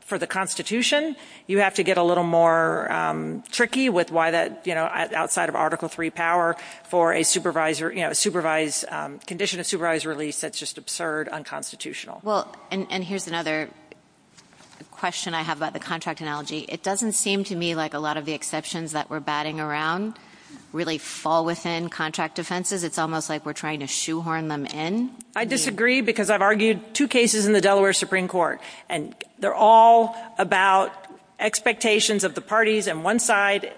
for the Constitution, you have to get a little more tricky with why that, you know, outside of Article III power for a supervised — you know, a supervised — condition of supervised release that's just absurd, unconstitutional. Well, and here's another question I have about the contract analogy. It doesn't seem to me like a lot of the exceptions that we're batting around really fall within contract offenses. It's almost like we're trying to shoehorn them in. I disagree because I've argued two cases in the Delaware Supreme Court, and they're all about expectations of the parties, and one side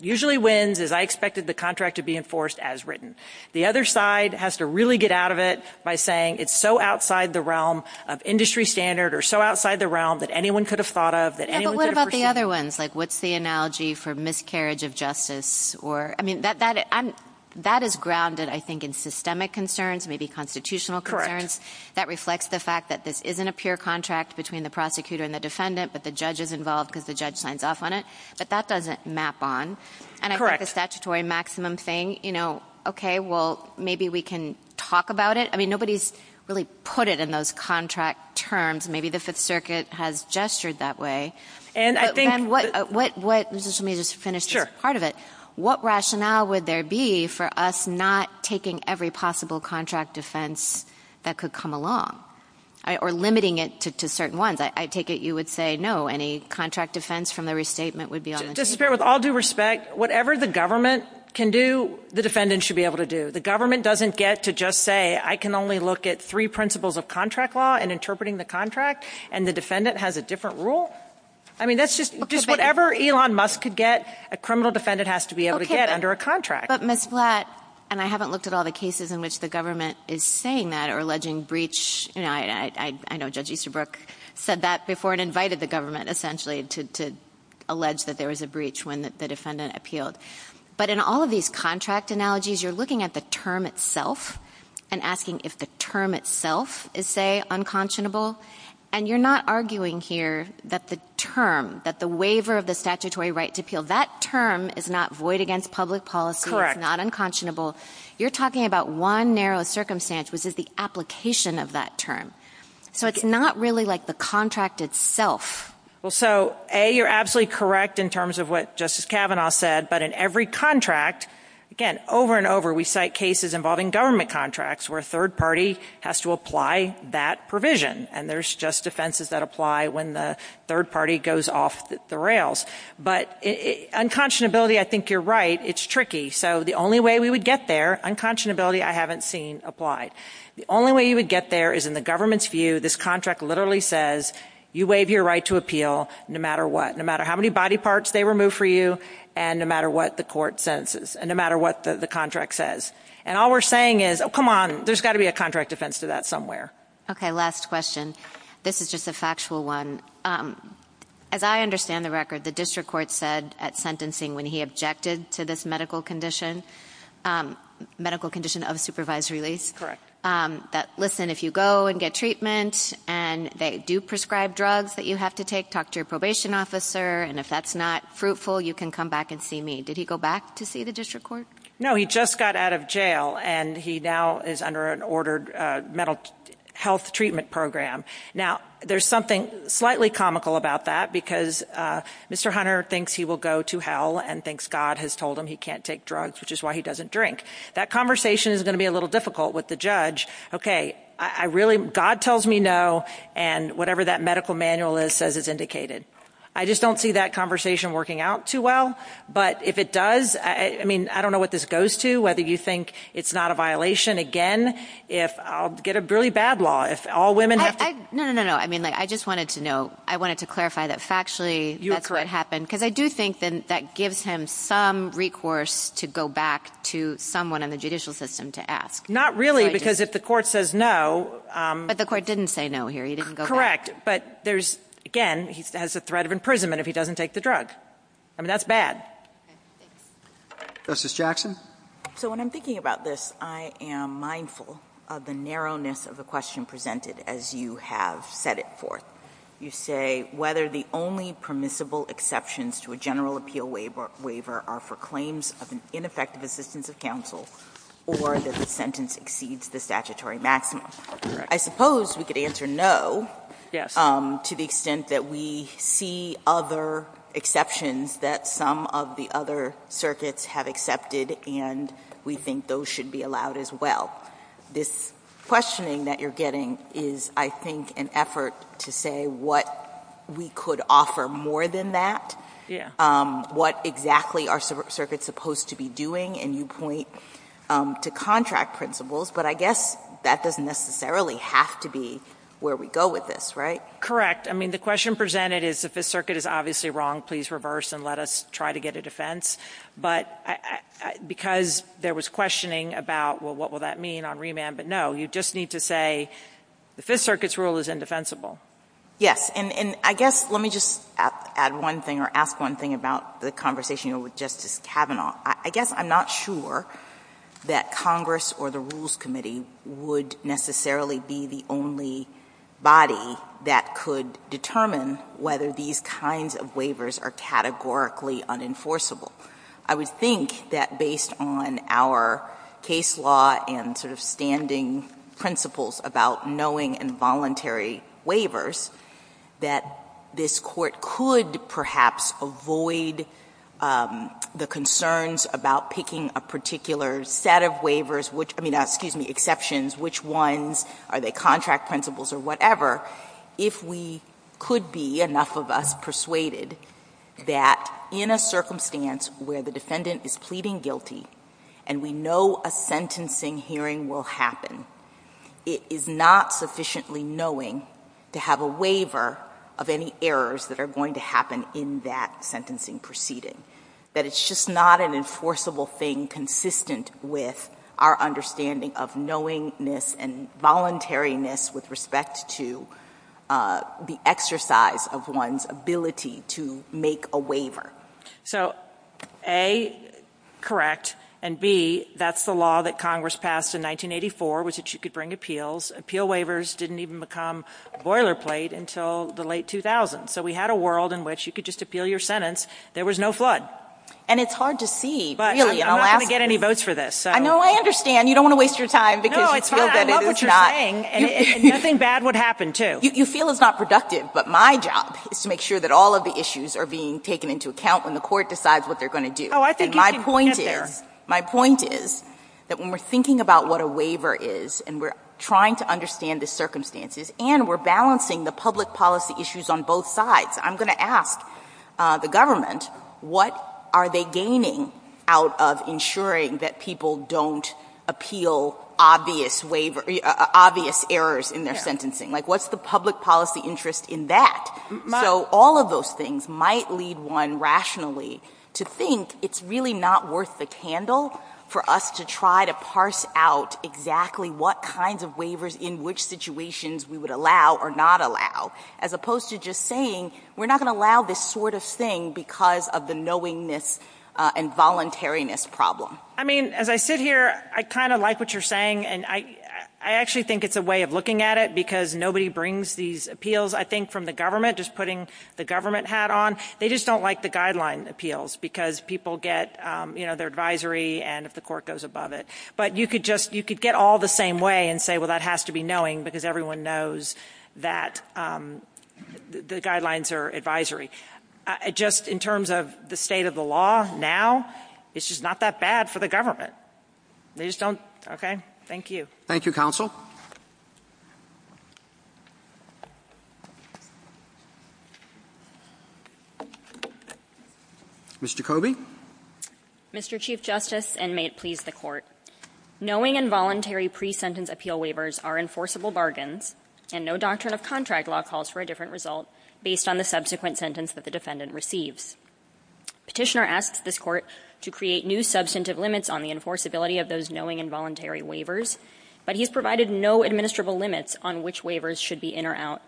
usually wins is I expected the contract to be enforced as written. The other side has to really get out of it by saying it's so outside the realm of industry standard or so outside the realm that anyone could have thought of, that anyone could have — Yeah, but what about the other ones, like what's the analogy for miscarriage of justice or — I mean, that is grounded, I think, in systemic concerns, maybe constitutional concerns. That reflects the fact that this isn't a pure contract between the prosecutor and the defendant, but the judge is involved because the judge signs off on it. But that doesn't map on. Correct. And I think the statutory maximum thing, you know, OK, well, maybe we can talk about it. I mean, nobody's really put it in those contract terms. Maybe the Fifth Circuit has gestured that way. And I think — And what — let me just finish part of it. Sure. What rationale would there be for us not taking every possible contract offense that could come along or limiting it to certain ones? I take it you would say no, any contract offense from the restatement would be on the — Justice Breyer, with all due respect, whatever the government can do, the defendant should be able to do. The government doesn't get to just say, I can only look at three principles of contract law and interpreting the contract, and the defendant has a different rule. I mean, that's just — just whatever Elon Musk could get, a criminal defendant has to be able to get under a contract. But, Ms. Blatt, and I haven't looked at all the cases in which the government is saying that or alleging breach. I know Judge Easterbrook said that before and invited the government, essentially, to allege that there was a breach when the defendant appealed. But in all of these contract analogies, you're looking at the term itself and asking if the term itself is, say, unconscionable. And you're not arguing here that the term, that the waiver of the statutory right to appeal, that term is not void against public policy. Correct. It's not unconscionable. You're talking about one narrow circumstance, which is the application of that term. So it's not really like the contract itself. Well, so, A, you're absolutely correct in terms of what Justice Kavanaugh said, but in every contract, again, over and over we cite cases involving government contracts where a third party has to apply that provision. And there's just defenses that apply when the third party goes off the rails. But unconscionability, I think you're right, it's tricky. So the only way we would get there, unconscionability I haven't seen applied. The only way you would get there is in the government's view. This contract literally says you waive your right to appeal no matter what, no matter how many body parts they remove for you and no matter what the court sentences and no matter what the contract says. And all we're saying is, oh, come on, there's got to be a contract defense to that somewhere. Okay. Last question. This is just a factual one. As I understand the record, the district court said at sentencing when he objected to this medical condition, medical condition of supervised release, that, listen, if you go and get treatment and they do prescribe drugs that you have to take, talk to your probation officer, and if that's not fruitful, you can come back and see me. Did he go back to see the district court? No, he just got out of jail, and he now is under an ordered mental health treatment program. Now, there's something slightly comical about that because Mr. Hunter thinks he will go to hell and thinks God has told him he can't take drugs, which is why he doesn't drink. That conversation is going to be a little difficult with the judge. Okay, really, God tells me no, and whatever that medical manual is says it's indicated. I just don't see that conversation working out too well. But if it does, I mean, I don't know what this goes to, whether you think it's not a violation. Again, I'll get a really bad law if all women have to. No, no, no. I mean, I just wanted to know. I wanted to clarify that factually that could happen because I do think that gives him some recourse to go back to someone in the judicial system to ask. Not really because if the court says no. But the court didn't say no here. He didn't go back. But there's, again, he has the threat of imprisonment if he doesn't take the drugs. I mean, that's bad. Justice Jackson. So when I'm thinking about this, I am mindful of the narrowness of the question presented as you have set it forth. You say whether the only permissible exceptions to a general appeal waiver are for claims of an ineffective assistance of counsel or that the sentence exceeds the statutory maximum. I suppose we could answer no to the extent that we see other exceptions that some of the other circuits have accepted and we think those should be allowed as well. This questioning that you're getting is, I think, an effort to say what we could offer more than that, what exactly are circuits supposed to be doing, and you point to contract principles. But I guess that doesn't necessarily have to be where we go with this, right? Correct. I mean, the question presented is the Fifth Circuit is obviously wrong. Please reverse and let us try to get a defense. But because there was questioning about, well, what will that mean on remand? But, no, you just need to say the Fifth Circuit's rule is indefensible. Yes, and I guess let me just add one thing or ask one thing about the conversation with Justice Kavanaugh. I guess I'm not sure that Congress or the Rules Committee would necessarily be the only body that could determine whether these kinds of waivers are categorically unenforceable. I would think that based on our case law and sort of standing principles about knowing involuntary waivers, that this Court could perhaps avoid the concerns about picking a particular set of waivers, which, I mean, excuse me, exceptions, which ones, are they contract principles or whatever, if we could be, enough of us, persuaded that in a circumstance where the defendant is pleading guilty and we know a sentencing hearing will happen, it is not sufficiently knowing to have a waiver of any errors that are going to happen in that sentencing proceeding, that it's just not an enforceable thing consistent with our understanding of knowingness and voluntariness with respect to the exercise of one's ability to make a waiver. So, A, correct, and B, that's the law that Congress passed in 1984, was that you could bring appeals. Appeal waivers didn't even become boilerplate until the late 2000s. So we had a world in which you could just appeal your sentence, there was no flood. And it's hard to see, really. But I'm not going to get any votes for this. No, I understand. You don't want to waste your time. No, it's fine. I love what you're saying. And nothing bad would happen, too. You feel it's not productive, but my job is to make sure that all of the issues are being taken into account when the court decides what they're going to do. Oh, I think you can get there. My point is that when we're thinking about what a waiver is and we're trying to understand the circumstances and we're balancing the public policy issues on both sides, I'm going to ask the government, what are they gaining out of ensuring that people don't appeal obvious errors in their sentencing? Like, what's the public policy interest in that? So all of those things might lead one rationally to think it's really not worth the candle for us to try to parse out exactly what kinds of waivers in which situations we would allow or not allow, as opposed to just saying we're not going to allow this sort of thing because of the knowingness and voluntariness problem. I mean, as I sit here, I kind of like what you're saying, and I actually think it's a way of looking at it because nobody brings these appeals, I think, from the government, just putting the government hat on. They just don't like the guideline appeals because people get their advisory and if the court goes above it. But you could get all the same way and say, well, that has to be knowing because everyone knows that the guidelines are advisory. Just in terms of the state of the law now, it's just not that bad for the government. They just don't, okay, thank you. Thank you, counsel. Mr. Coby. Mr. Chief Justice, and may it please the Court, knowing and voluntary pre-sentence appeal waivers are enforceable bargains and no doctrine of contract law calls for a different result based on the subsequent sentence that the defendant receives. Petitioner asks this Court to create new substantive limits on the enforceability of those knowing and voluntary waivers, but he has provided no administrable limits on which waivers should be in or out.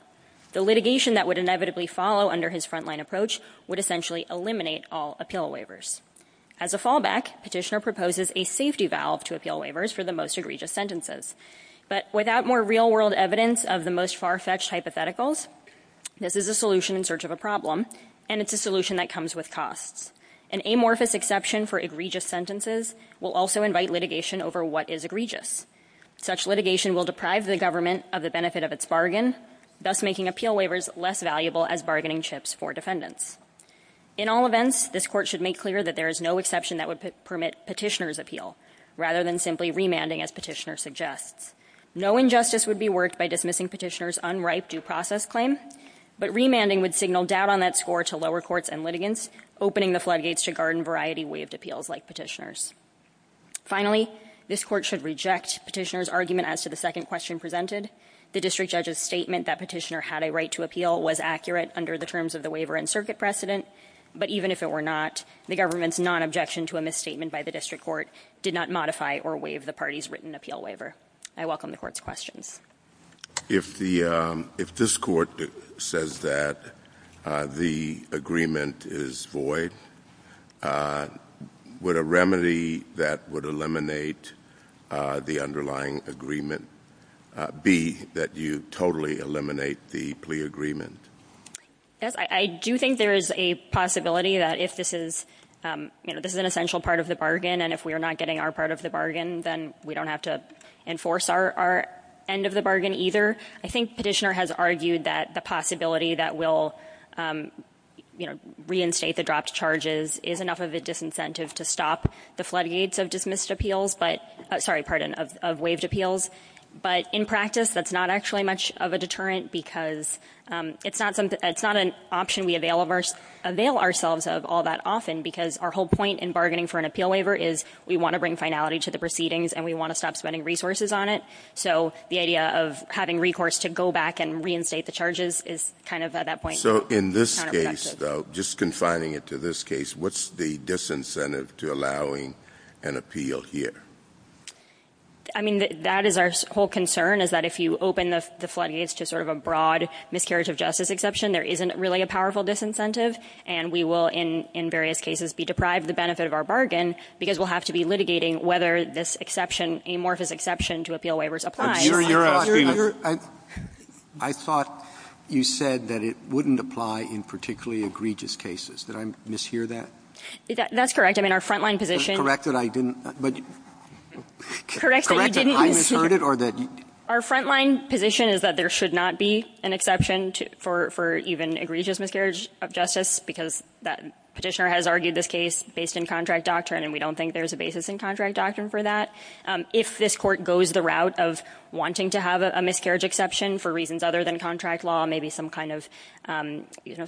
The litigation that would inevitably follow under his front-line approach would essentially eliminate all appeal waivers. As a fallback, Petitioner proposes a safety valve to appeal waivers for the most egregious sentences. But without more real-world evidence of the most far-fetched hypotheticals, this is a solution in search of a problem, and it's a solution that comes with costs. An amorphous exception for egregious sentences will also invite litigation over what is egregious. Such litigation will deprive the government of the benefit of its bargain, thus making appeal waivers less valuable as bargaining chips for defendants. In all events, this Court should make clear that there is no exception that would permit Petitioner's appeal, rather than simply remanding, as Petitioner suggests. No injustice would be worked by dismissing Petitioner's unripe due process claim, but remanding would signal doubt on that score to lower courts and litigants, opening the floodgates to garden-variety waived appeals like Petitioner's. Finally, this Court should reject Petitioner's argument as to the second question presented. The district judge's statement that Petitioner had a right to appeal was accurate under the terms of the waiver and circuit precedent, but even if it were not, the government's non-objection to a misstatement by the district court did not modify or waive the party's written appeal waiver. I welcome the Court's questions. If this Court says that the agreement is void, would a remedy that would eliminate the underlying agreement be that you totally eliminate the plea agreement? I do think there is a possibility that if this is an essential part of the bargain and if we are not getting our part of the bargain, then we don't have to enforce our end of the bargain either. I think Petitioner has argued that the possibility that we'll reinstate the dropped charges is enough of a disincentive to stop the floodgates of waived appeals, but in practice that's not actually much of a deterrent because it's not an option we avail ourselves of all that often because our whole point in bargaining for an appeal waiver is we want to bring finality to the proceedings and we want to stop spending resources on it. So the idea of having recourse to go back and reinstate the charges is kind of at that point. So in this case, though, just confining it to this case, what's the disincentive to allowing an appeal here? I mean, that is our whole concern is that if you open the floodgates to sort of a broad miscarriage of justice exception, there isn't really a powerful disincentive and we will, in various cases, be deprived of the benefit of our bargain because we'll have to be litigating whether this exception, amorphous exception to appeal waivers, applies. I thought you said that it wouldn't apply in particularly egregious cases. Did I mishear that? That's correct. I mean, our front-line position is that there should not be an exception for even egregious miscarriage of justice because the petitioner has argued this case based in contract doctrine and we don't think there's a basis in contract doctrine for that. If this court goes the route of wanting to have a miscarriage exception for reasons other than contract law, maybe some kind of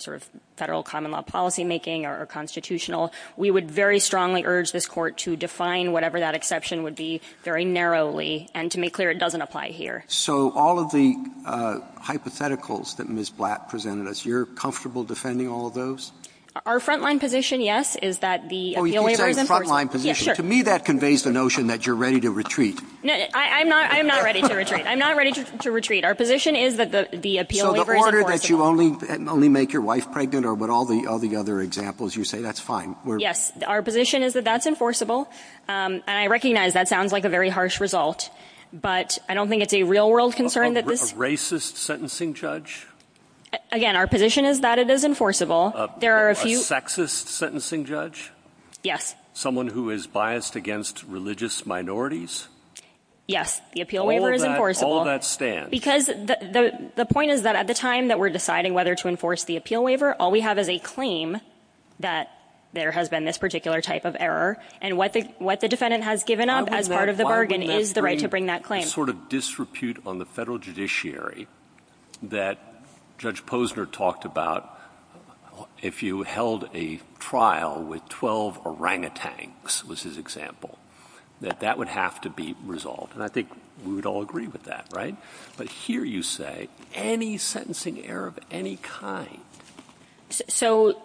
sort of federal common law policymaking or constitutional, we would very strongly urge this court to define whatever that exception would be very narrowly and to make clear it doesn't apply here. So all of the hypotheticals that Ms. Blatt presented us, you're comfortable defending all of those? Our front-line position, yes, is that the appeal waiver is enforceable. To me, that conveys the notion that you're ready to retreat. I'm not ready to retreat. Our position is that the appeal waiver is enforceable. So the order that you only make your wife pregnant or with all the other examples, you say that's fine? Yes. Our position is that that's enforceable and I recognize that sounds like a very harsh result, but I don't think it's a real-world concern. A racist sentencing judge? Again, our position is that it is enforceable. A sexist sentencing judge? Yes. Someone who is biased against religious minorities? Yes, the appeal waiver is enforceable. How will that stand? Because the point is that at the time that we're deciding whether to enforce the appeal waiver, all we have is a claim that there has been this particular type of error and what the defendant has given up as part of the bargain is the right to bring that claim. A sort of disrepute on the federal judiciary that Judge Posner talked about, if you held a trial with 12 orangutans, was his example, that that would have to be resolved. And I think we would all agree with that, right? But here you say any sentencing error of any kind. So,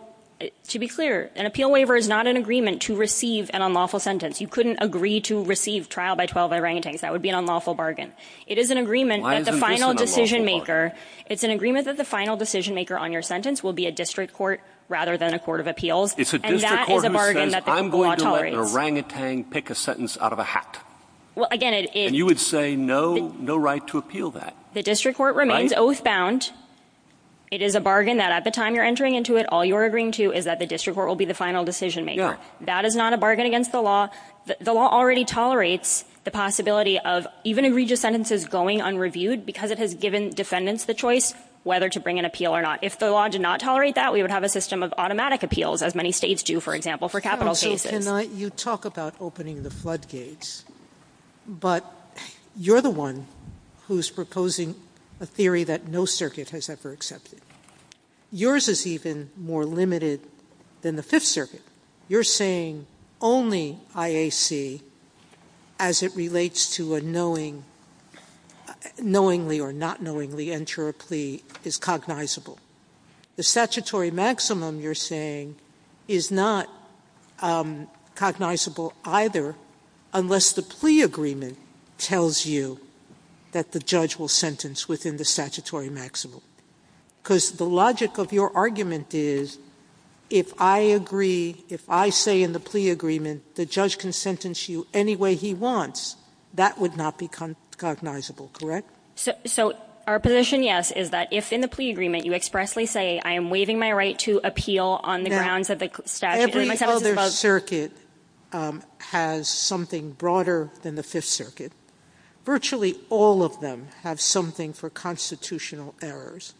to be clear, an appeal waiver is not an agreement to receive an unlawful sentence. You couldn't agree to receive trial by 12 orangutans. That would be an unlawful bargain. It is an agreement that the final decision-maker on your sentence will be a district court rather than a court of appeals. It's a district court who says I'm going to let an orangutan pick a sentence out of a hat. And you would say no right to appeal that. The district court remains oath-bound. It is a bargain that at the time you're entering into it, all you're agreeing to is that the district court will be the final decision-maker. That is not a bargain against the law. The law already tolerates the possibility of even agree to sentences going unreviewed because it has given defendants the choice whether to bring an appeal or not. If the law did not tolerate that, we would have a system of automatic appeals, as many states do, for example, for capital cases. And you talk about opening the floodgates, but you're the one who's proposing a theory that no circuit has ever accepted. Yours is even more limited than the Fifth Circuit. You're saying only IAC as it relates to a knowingly or not knowingly enter a plea is cognizable. The statutory maximum, you're saying, is not cognizable either unless the plea agreement tells you that the judge will sentence within the statutory maximum. Because the logic of your argument is if I agree, if I say in the plea agreement, the judge can sentence you any way he wants, that would not be cognizable, correct? So our position, yes, is that if in the plea agreement you expressly say, I am waiving my right to appeal on the grounds that the statute in my sentence does... Every other circuit has something broader than the Fifth Circuit. Virtually all of them have something for constitutional errors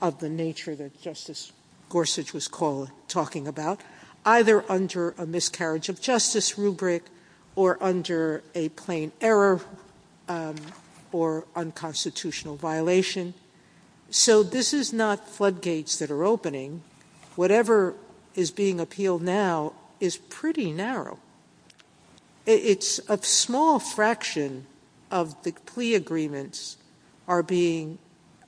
of the nature that Justice Gorsuch was talking about, either under a miscarriage of justice rubric or under a plain error or unconstitutional violation. So this is not floodgates that are opening. Whatever is being appealed now is pretty narrow. It's a small fraction of the plea agreements are being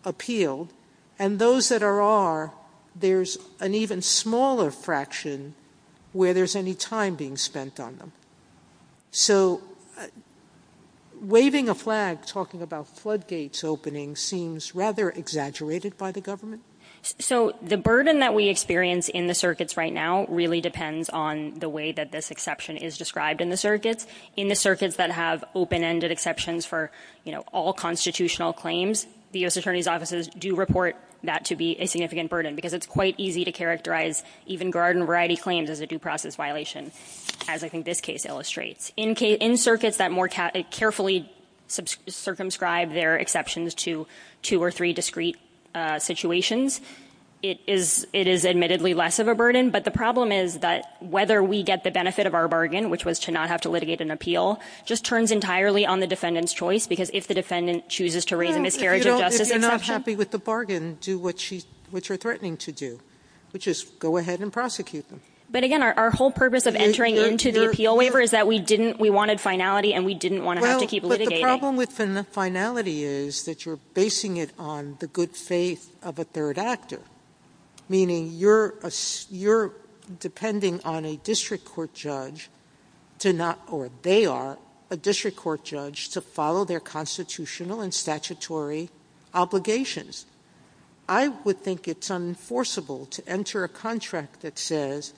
appealed. And those that are are, there's an even smaller fraction where there's any time being spent on them. So waving a flag, talking about floodgates opening, seems rather exaggerated by the government? So the burden that we experience in the circuits right now really depends on the way that this exception is described in the circuits. In the circuits that have open-ended exceptions for all constitutional claims, the U.S. Attorney's offices do report that to be a significant burden because it's quite easy to characterize even garden variety claims as a due process violation, as I think this case illustrates. In circuits that more carefully circumscribe their exceptions to two or three discrete situations, it is admittedly less of a burden. But the problem is that whether we get the benefit of our bargain, which was to not have to litigate an appeal, just turns entirely on the defendant's choice because if the defendant chooses to raise a miscarriage of justice exception. If you're not happy with the bargain, do what you're threatening to do, which is go ahead and prosecute them. But, again, our whole purpose of entering into the appeal waiver is that we wanted finality and we didn't want to have to keep litigating. But the problem with the finality is that you're basing it on the good faith of a third actor, meaning you're depending on a district court judge, or they are, a district court judge, to follow their constitutional and statutory obligations. I would think it's unenforceable to enter a contract that says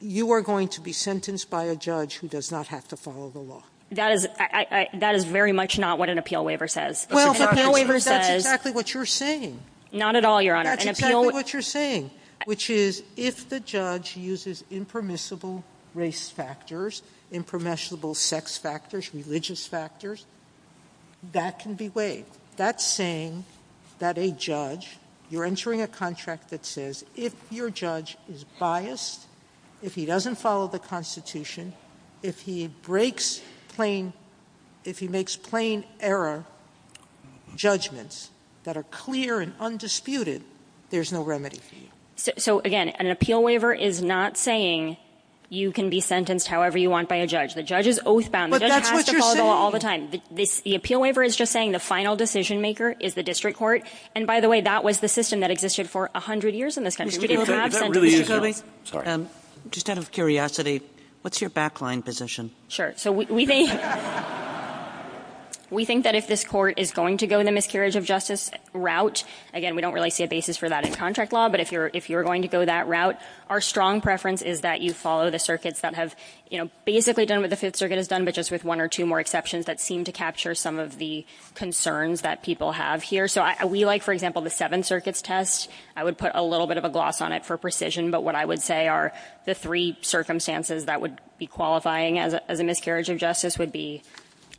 you are going to be sentenced by a judge who does not have to follow the law. That is very much not what an appeal waiver says. That's exactly what you're saying. Not at all, Your Honor. That's exactly what you're saying, which is if the judge uses impermissible race factors, impermissible sex factors, religious factors, that can be waived. That's saying that a judge, you're entering a contract that says if your judge is biased, if he doesn't follow the Constitution, if he makes plain error judgments that are clear and undisputed, there's no remedy for you. So, again, an appeal waiver is not saying you can be sentenced however you want by a judge. The judge is oath-bound. It doesn't have to follow the law all the time. The appeal waiver is just saying the final decision-maker is the district court. And, by the way, that was the system that existed for 100 years in this country. Just out of curiosity, what's your backline position? So we think that if this court is going to go in the miscarriage of justice route, again, we don't really see a basis for that in contract law, but if you're going to go that route, our strong preference is that you follow the circuits that have basically done what the Fifth Circuit has done, but just with one or two more exceptions that seem to capture some of the concerns that people have here. So we like, for example, the Seventh Circuit's test. I would put a little bit of a gloss on it for precision, but what I would say are the three circumstances that would be qualifying as a miscarriage of justice would be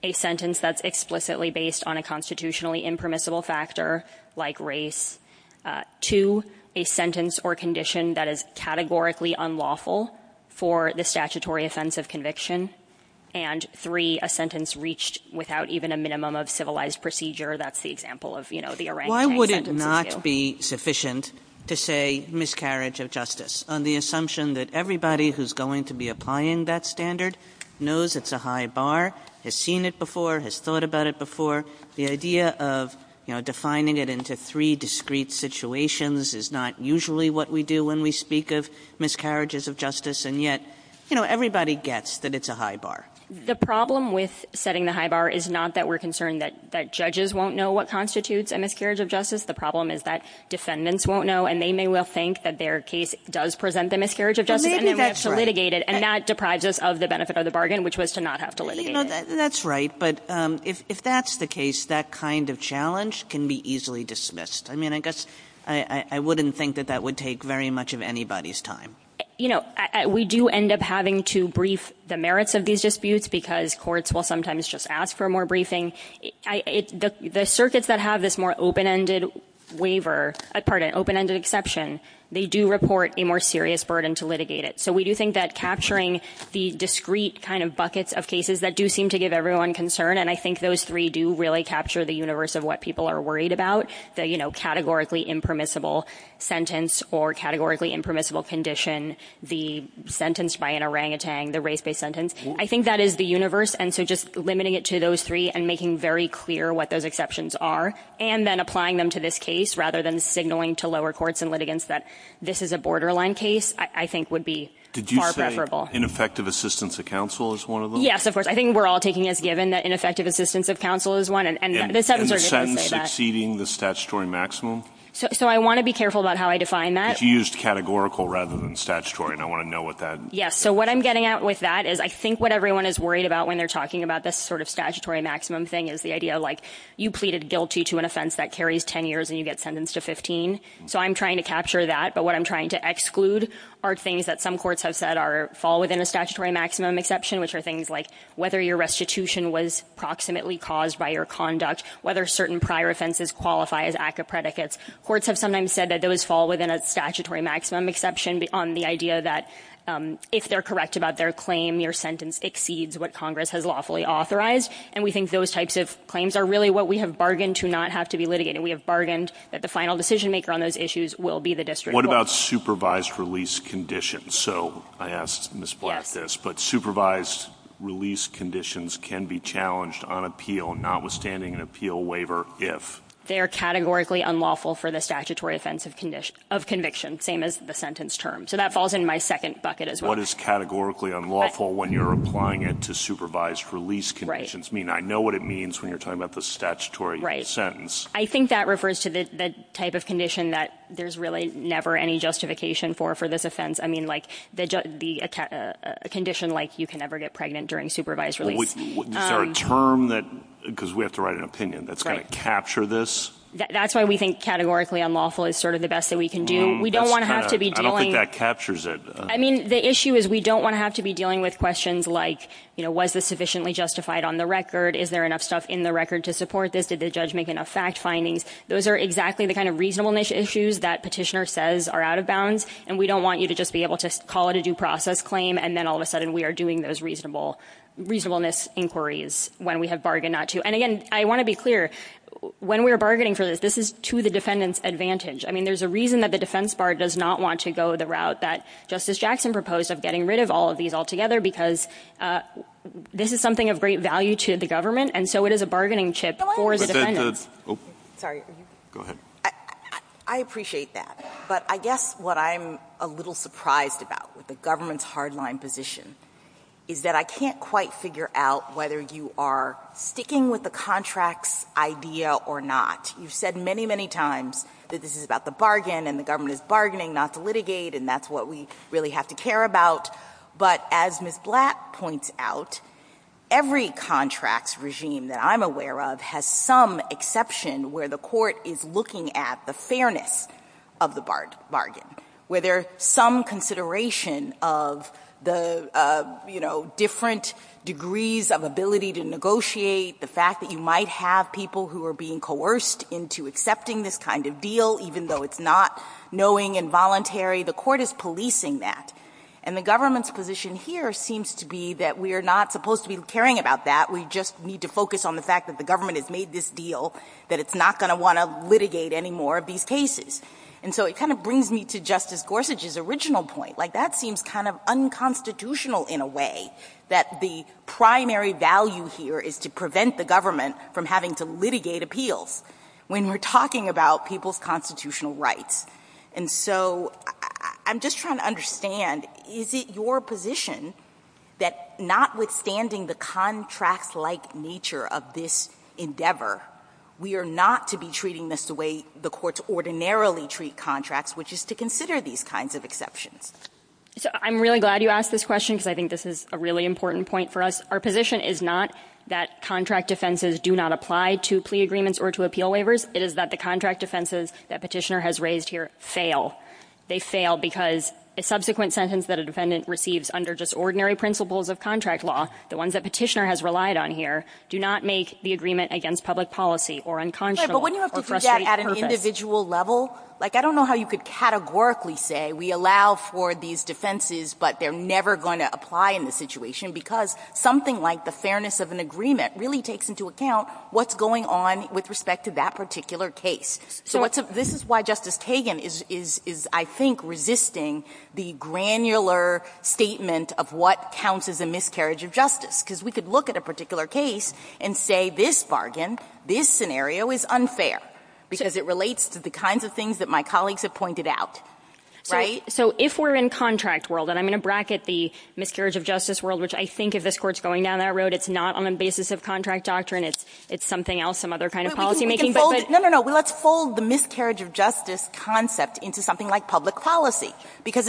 a sentence that's explicitly based on a constitutionally impermissible factor like race, two, a sentence or condition that is categorically unlawful for the statutory offense of conviction, and three, a sentence reached without even a minimum of civilized procedure. That's the example of, you know, the arrangement. Why would it not be sufficient to say miscarriage of justice on the assumption that everybody who's going to be applying that standard knows it's a high bar, has seen it before, has thought about it before? The idea of, you know, defining it into three discrete situations is not usually what we do when we speak of miscarriages of justice, and yet, you know, everybody gets that it's a high bar. The problem with setting the high bar is not that we're concerned that judges won't know what constitutes a miscarriage of justice. The problem is that defendants won't know, and they may well think that their case does present the miscarriage of justice, and that's to litigate it, and that deprives us of the benefit of the bargain, which was to not have to litigate it. That's right, but if that's the case, that kind of challenge can be easily dismissed. I mean, I guess I wouldn't think that that would take very much of anybody's time. You know, we do end up having to brief the merits of these disputes because courts will sometimes just ask for more briefing. The circuits that have this more open-ended waiver, pardon, open-ended exception, they do report a more serious burden to litigate it. So we do think that capturing the discrete kind of buckets of cases that do seem to give everyone concern, and I think those three do really capture the universe of what people are worried about, the categorically impermissible sentence or categorically impermissible condition, the sentence by an orangutan, the race-based sentence. I think that is the universe, and so just limiting it to those three and making very clear what those exceptions are and then applying them to this case rather than signaling to lower courts and litigants that this is a borderline case, I think, would be far preferable. Did you say ineffective assistance of counsel is one of them? Yes, of course. I think we're all taking it as given that ineffective assistance of counsel is one. And the sentence exceeding the statutory maximum? So I want to be careful about how I define that. Because you used categorical rather than statutory, and I want to know what that is. Yes, so what I'm getting at with that is I think what everyone is worried about when they're talking about this sort of statutory maximum thing is the idea of, like, you pleaded guilty to an offense that carries 10 years and you get sentenced to 15. So I'm trying to capture that, but what I'm trying to exclude are things that some courts have said fall within a statutory maximum exception, which are things like whether your restitution was proximately caused by your conduct, whether certain prior offenses qualify as act of predicates. Courts have sometimes said that those fall within a statutory maximum exception on the idea that if they're correct about their claim, your sentence exceeds what Congress has lawfully authorized. And we think those types of claims are really what we have bargained to not have to be litigated. We have bargained that the final decision-maker on those issues will be the district court. What about supervised release conditions? So I asked Ms. Black this, but supervised release conditions can be challenged on appeal, notwithstanding an appeal waiver, if? They are categorically unlawful for the statutory offense of conviction, same as the sentence term. So that falls in my second bucket as well. What is categorically unlawful when you're applying it to supervised release conditions? I mean, I know what it means when you're talking about the statutory sentence. I think that refers to the type of condition that there's really never any justification for for this offense. I mean, like a condition like you can never get pregnant during supervised release. Is there a term that, because we have to write an opinion, that's going to capture this? That's why we think categorically unlawful is sort of the best that we can do. We don't want to have to be dealing. I don't think that captures it. I mean, the issue is we don't want to have to be dealing with questions like, you know, was this sufficiently justified on the record? Is there enough stuff in the record to support this? Did the judge make enough fact findings? Those are exactly the kind of reasonableness issues that petitioner says are out of bounds, and we don't want you to just be able to call it a due process claim, and then all of a sudden we are doing those reasonableness inquiries when we have bargained not to. And, again, I want to be clear, when we're bargaining for this, this is to the defendant's advantage. I mean, there's a reason that the defense bar does not want to go the route that Justice Jackson proposed of getting rid of all of these altogether, because this is something of great value to the government, and so it is a bargaining chip for the defendant. Sorry. Go ahead. I appreciate that, but I guess what I'm a little surprised about with the government's hard-line position is that I can't quite figure out whether you are sticking with the contract's idea or not. You've said many, many times that this is about the bargain and the government is bargaining, not the litigate, and that's what we really have to care about. But as Ms. Blatt points out, every contract's regime that I'm aware of has some exception where the court is looking at the fairness of the bargain, where there's some consideration of the different degrees of ability to negotiate, the fact that you might have people who are being coerced into accepting this kind of deal, even though it's not knowing and voluntary. The court is policing that. And the government's position here seems to be that we are not supposed to be caring about that. We just need to focus on the fact that the government has made this deal, that it's not going to want to litigate any more of these cases. And so it kind of brings me to Justice Gorsuch's original point. Like, that seems kind of unconstitutional in a way, that the primary value here is to prevent the government from having to litigate appeals when we're talking about people's constitutional rights. And so I'm just trying to understand, is it your position that notwithstanding the contract-like nature of this endeavor, we are not to be treating this the way the courts ordinarily treat contracts, which is to consider these kinds of exceptions? I'm really glad you asked this question because I think this is a really important point for us. Our position is not that contract offenses do not apply to plea agreements or to appeal waivers. It is that the contract offenses that Petitioner has raised here fail. They fail because the subsequent sentence that a defendant receives under just ordinary principles of contract law, the ones that Petitioner has relied on here, do not make the agreement against public policy or unconscionable or frustrating. But wouldn't you have to project at an individual level? Like, I don't know how you could categorically say, we allow for these defenses but they're never going to apply in this situation because something like the fairness of an agreement really takes into account what's going on with respect to that particular case. So this is why Justice Kagan is, I think, resisting the granular statement of what counts as a miscarriage of justice because we could look at a particular case and say, this bargain, this scenario is unfair because it relates to the kinds of things that my colleagues have pointed out. Right? So if we're in contract world, and I'm going to bracket the miscarriage of justice world, which I think if this court is going down that road, it's not on the basis of contract doctrine. It's something else, some other kind of policymaking. No, no, no. Let's fold the miscarriage of justice concept into something like public policy because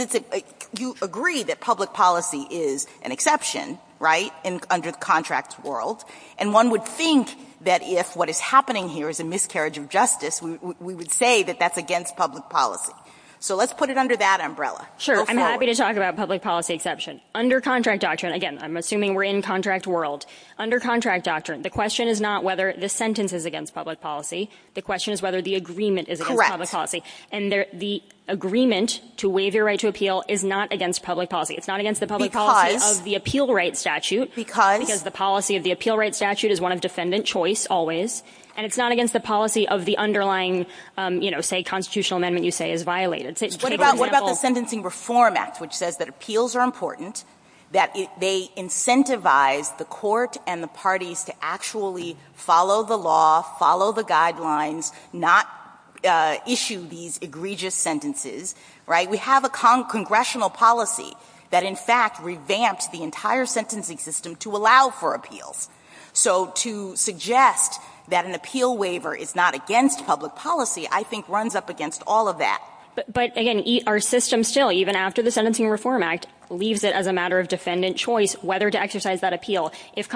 you agree that public policy is an exception, right, under the contract world. And one would think that if what is happening here is a miscarriage of justice, we would say that that's against public policy. So let's put it under that umbrella. Sure. I'm happy to talk about public policy exception. Under contract doctrine, again, I'm assuming we're in contract world. Under contract doctrine, the question is not whether the sentence is against public policy. The question is whether the agreement is against public policy. And the agreement to waive your right to appeal is not against public policy. It's not against the public policy of the appeal right statute because the policy of the appeal right statute is one of defendant choice always, and it's not against the policy of the underlying, you know, say constitutional amendment you say is violated. What about the Sentencing Reform Act, which says that appeals are important, that they incentivize the court and the parties to actually follow the law, follow the guidelines, not issue these egregious sentences, right? We have a congressional policy that, in fact, revamped the entire sentencing system to allow for appeals. So to suggest that an appeal waiver is not against public policy, I think, runs up against all of that. But, again, our system still, even after the Sentencing Reform Act, leaves it as a matter of defendant choice whether to exercise that appeal. That's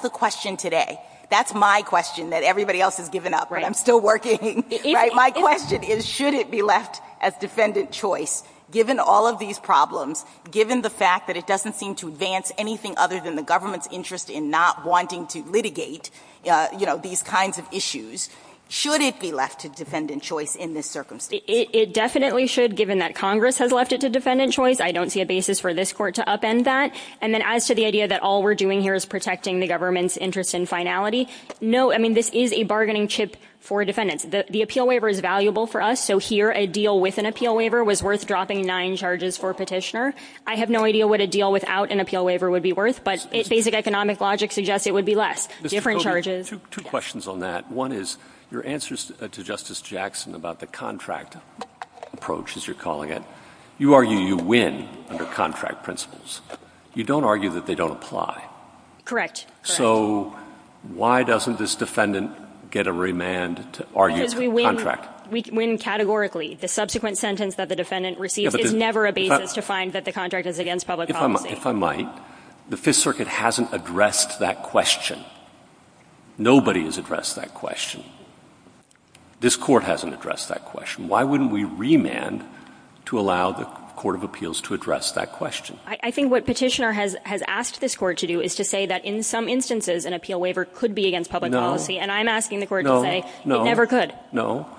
the question today. That's my question that everybody else has given up, but I'm still working. My question is should it be left as defendant choice given all of these problems, given the fact that it doesn't seem to advance anything other than the government's interest in not wanting to litigate, you know, these kinds of issues. Should it be left to defendant choice in this circumstance? It definitely should, given that Congress has left it to defendant choice. I don't see a basis for this court to upend that. And then as to the idea that all we're doing here is protecting the government's interest in finality, no, I mean, this is a bargaining chip for defendants. The appeal waiver is valuable for us, so here a deal with an appeal waiver was worth dropping nine charges for a petitioner. I have no idea what a deal without an appeal waiver would be worth, but basic economic logic suggests it would be less, different charges. Two questions on that. One is your answers to Justice Jackson about the contract approach, as you're calling it, you argue you win under contract principles. You don't argue that they don't apply. So why doesn't this defendant get a remand to argue contract? Because we win categorically. The subsequent sentence that the defendant receives is never a basis to find that the contract is against public policy. If I might, the Fifth Circuit hasn't addressed that question. Nobody has addressed that question. This court hasn't addressed that question. Why wouldn't we remand to allow the Court of Appeals to address that question? I think what Petitioner has asked this court to do is to say that in some instances an appeal waiver could be against public policy, and I'm asking the court to say it never could. No, no.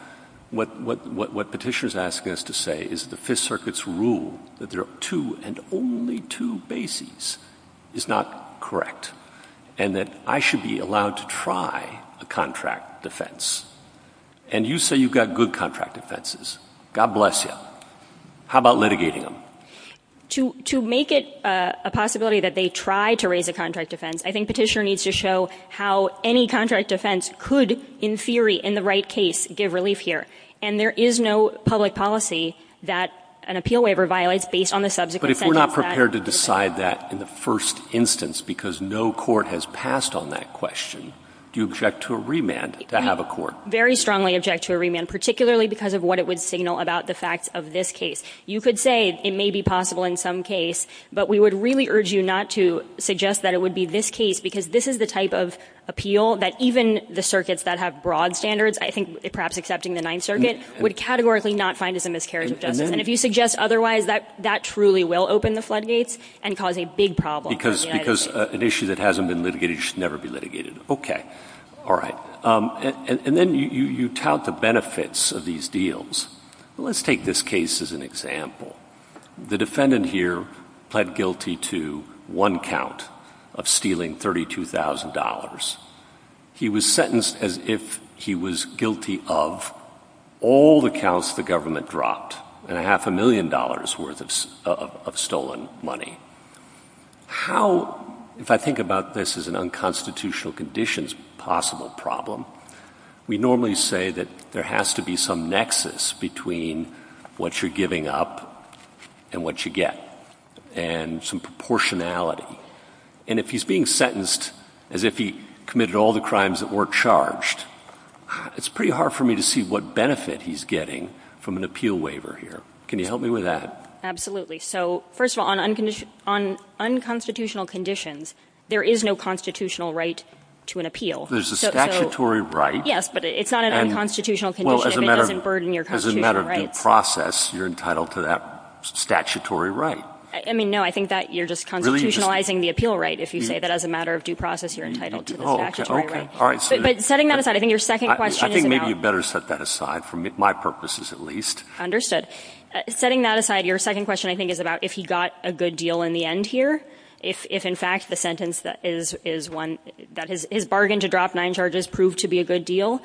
What Petitioner is asking us to say is the Fifth Circuit's rule that there are two and only two bases is not correct, and that I should be allowed to try a contract defense. And you say you've got good contract defenses. God bless you. How about litigating them? To make it a possibility that they try to raise a contract defense, I think Petitioner needs to show how any contract defense could, in theory, in the right case, give relief here. And there is no public policy that an appeal waiver violates based on the subsequent sentence. But if we're not prepared to decide that in the first instance because no court has passed on that question, do you object to a remand to have a court? Very strongly object to a remand, particularly because of what it would signal about the fact of this case. You could say it may be possible in some case, but we would really urge you not to suggest that it would be this case because this is the type of appeal that even the circuits that have broad standards, I think perhaps excepting the Ninth Circuit, would categorically not find as a miscarriage of justice. And if you suggest otherwise, that truly will open the floodgates and cause a big problem. Because an issue that hasn't been litigated should never be litigated. Okay. All right. And then you tout the benefits of these deals. Let's take this case as an example. The defendant here pled guilty to one count of stealing $32,000. He was sentenced as if he was guilty of all the counts the government dropped and a half a million dollars' worth of stolen money. How, if I think about this as an unconstitutional conditions possible problem, we normally say that there has to be some nexus between what you're giving up and what you get, and some proportionality. And if he's being sentenced as if he committed all the crimes that weren't charged, it's pretty hard for me to see what benefit he's getting from an appeal waiver here. Can you help me with that? So, first of all, on unconstitutional conditions, there is no constitutional right to an appeal. There's a statutory right. Yes, but it's not an unconstitutional condition. Well, as a matter of due process, you're entitled to that statutory right. I mean, no, I think that you're just constitutionalizing the appeal right. If you say that as a matter of due process, you're entitled to the statutory right. But setting that aside, I think your second question is about... I think maybe you'd better set that aside for my purposes, at least. Understood. Setting that aside, your second question, I think, is about if he got a good deal in the end here, if, in fact, the sentence is one that his bargain to drop nine charges proved to be a good deal.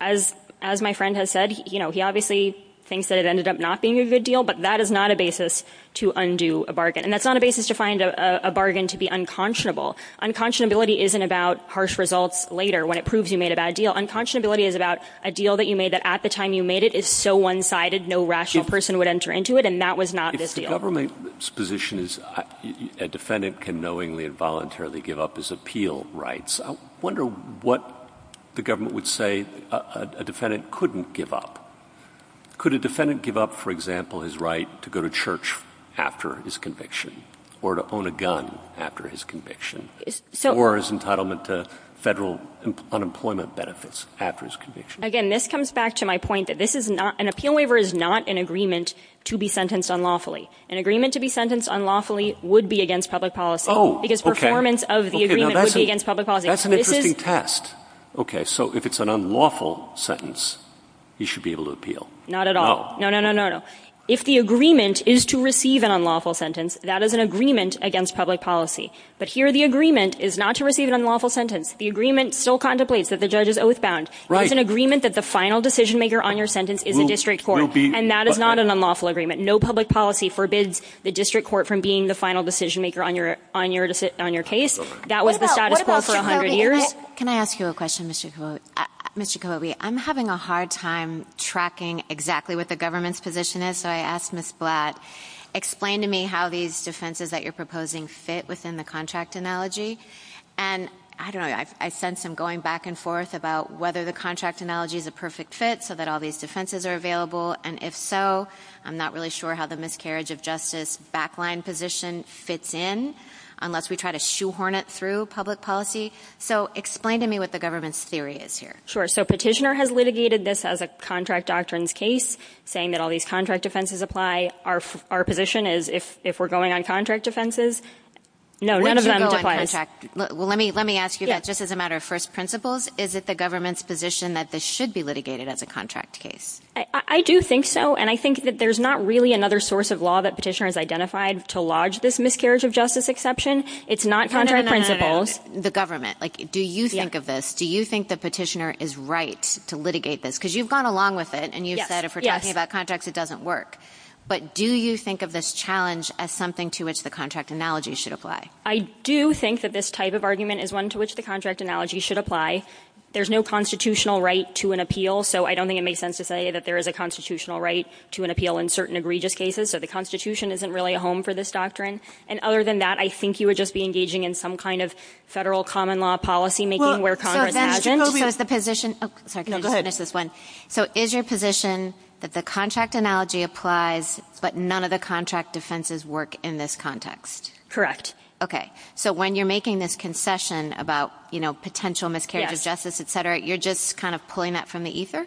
As my friend has said, he obviously thinks that it ended up not being a good deal, but that is not a basis to undo a bargain. And that's not a basis to find a bargain to be unconscionable. Unconscionability isn't about harsh results later when it proves you made a bad deal. Unconscionability is about a deal that you made that at the time you made it is so one-sided, no rational person would enter into it, and that was not this deal. If the government's position is a defendant can knowingly and voluntarily give up his appeal rights, I wonder what the government would say a defendant couldn't give up. Could a defendant give up, for example, his right to go to church after his conviction or to own a gun after his conviction or his entitlement to federal unemployment benefits after his conviction? Again, this comes back to my point that an appeal waiver is not an agreement to be sentenced unlawfully. An agreement to be sentenced unlawfully would be against public policy. Oh, okay. Because performance of the agreement would be against public policy. That's an interesting test. Okay, so if it's an unlawful sentence, he should be able to appeal. Not at all. No, no, no, no, no. If the agreement is to receive an unlawful sentence, that is an agreement against public policy. But here the agreement is not to receive an unlawful sentence. The agreement still contemplates that the judge is oath-bound. It's an agreement that the final decision-maker on your sentence is the district court, and that is not an unlawful agreement. No public policy forbids the district court from being the final decision-maker on your case. That was the status quo for 100 years. Can I ask you a question, Mr. Cavoli? Mr. Cavoli, I'm having a hard time tracking exactly what the government's position is, so I asked Ms. Blatt, explain to me how these defenses that you're proposing fit within the contract analogy. And I don't know, I sense some going back and forth about whether the contract analogy is a perfect fit so that all these defenses are available, and if so, I'm not really sure how the miscarriage of justice backline position fits in unless we try to shoehorn it through public policy. So explain to me what the government's theory is here. Sure, so Petitioner has litigated this as a contract doctrines case, saying that all these contract defenses apply. Our position is if we're going on contract defenses, none of them apply. Let me ask you that just as a matter of first principles. Is it the government's position that this should be litigated as a contract case? I do think so, and I think that there's not really another source of law that Petitioner has identified to lodge this miscarriage of justice exception. It's not contract principles, the government. Do you think of this? Do you think that Petitioner is right to litigate this? Because you've gone along with it, and you've said if we're talking about contracts, it doesn't work. But do you think of this challenge as something to which the contract analogy should apply? I do think that this type of argument is one to which the contract analogy should apply. There's no constitutional right to an appeal, so I don't think it makes sense to say that there is a constitutional right to an appeal in certain egregious cases, so the Constitution isn't really a home for this doctrine. And other than that, I think you would just be engaging in some kind of federal common-law policymaking where Congress… Well, then again, is the position… No, go ahead. So is your position that the contract analogy applies, but none of the contract defenses work in this context? Correct. Okay. So when you're making this concession about, you know, potential miscarriage of justice, et cetera, you're just kind of pulling that from the ether?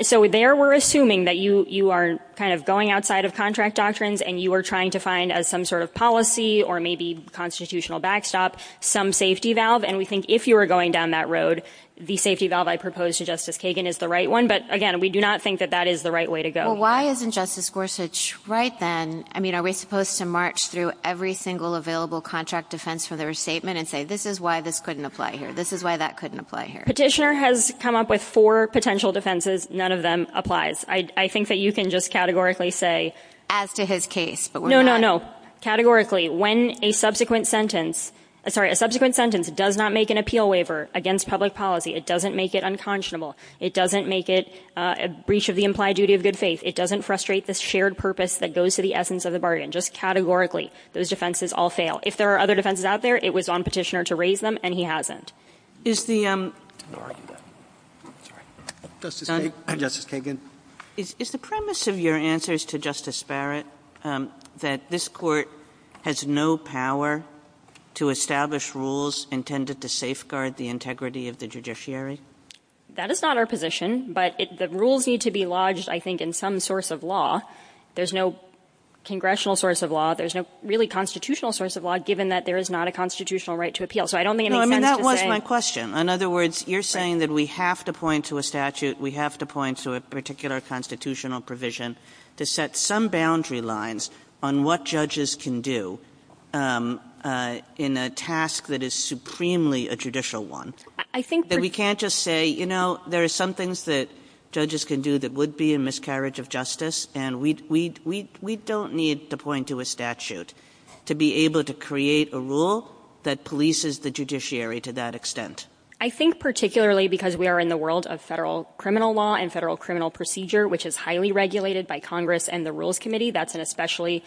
So there we're assuming that you are kind of going outside of contract doctrines, and you are trying to find as some sort of policy or maybe constitutional backstop some safety valve, and we think if you were going down that road, the safety valve I proposed to Justice Kagan is the right one, but again, we do not think that that is the right way to go. Well, why isn't Justice Gorsuch right then? I mean, are we supposed to march through every single available contract defense for their statement and say, this is why this couldn't apply here, this is why that couldn't apply here? Petitioner has come up with four potential defenses. None of them applies. I think that you can just categorically say, as to his case. No, no, no. Categorically, when a subsequent sentence does not make an appeal waiver against public policy, it doesn't make it unconscionable, it doesn't make it a breach of the implied duty of good faith, it doesn't frustrate the shared purpose that goes to the essence of the bargain. Just categorically, those defenses all fail. If there are other defenses out there, it was on Petitioner to raise them, and he hasn't. Justice Kagan. Is the premise of your answers to Justice Barrett that this Court has no power to establish rules intended to safeguard the integrity of the judiciary? That is not our position, but the rules need to be lodged, I think, in some source of law. There's no congressional source of law, there's no really constitutional source of law, given that there is not a constitutional right to appeal. That was my question. In other words, you're saying that we have to point to a statute, we have to point to a particular constitutional provision to set some boundary lines on what judges can do in a task that is supremely a judicial one. We can't just say, you know, there are some things that judges can do that would be a miscarriage of justice, and we don't need to point to a statute to be able to create a rule that polices the judiciary to that extent. I think particularly because we are in the world of federal criminal law and federal criminal procedure, which is highly regulated by Congress and the Rules Committee, that's an especially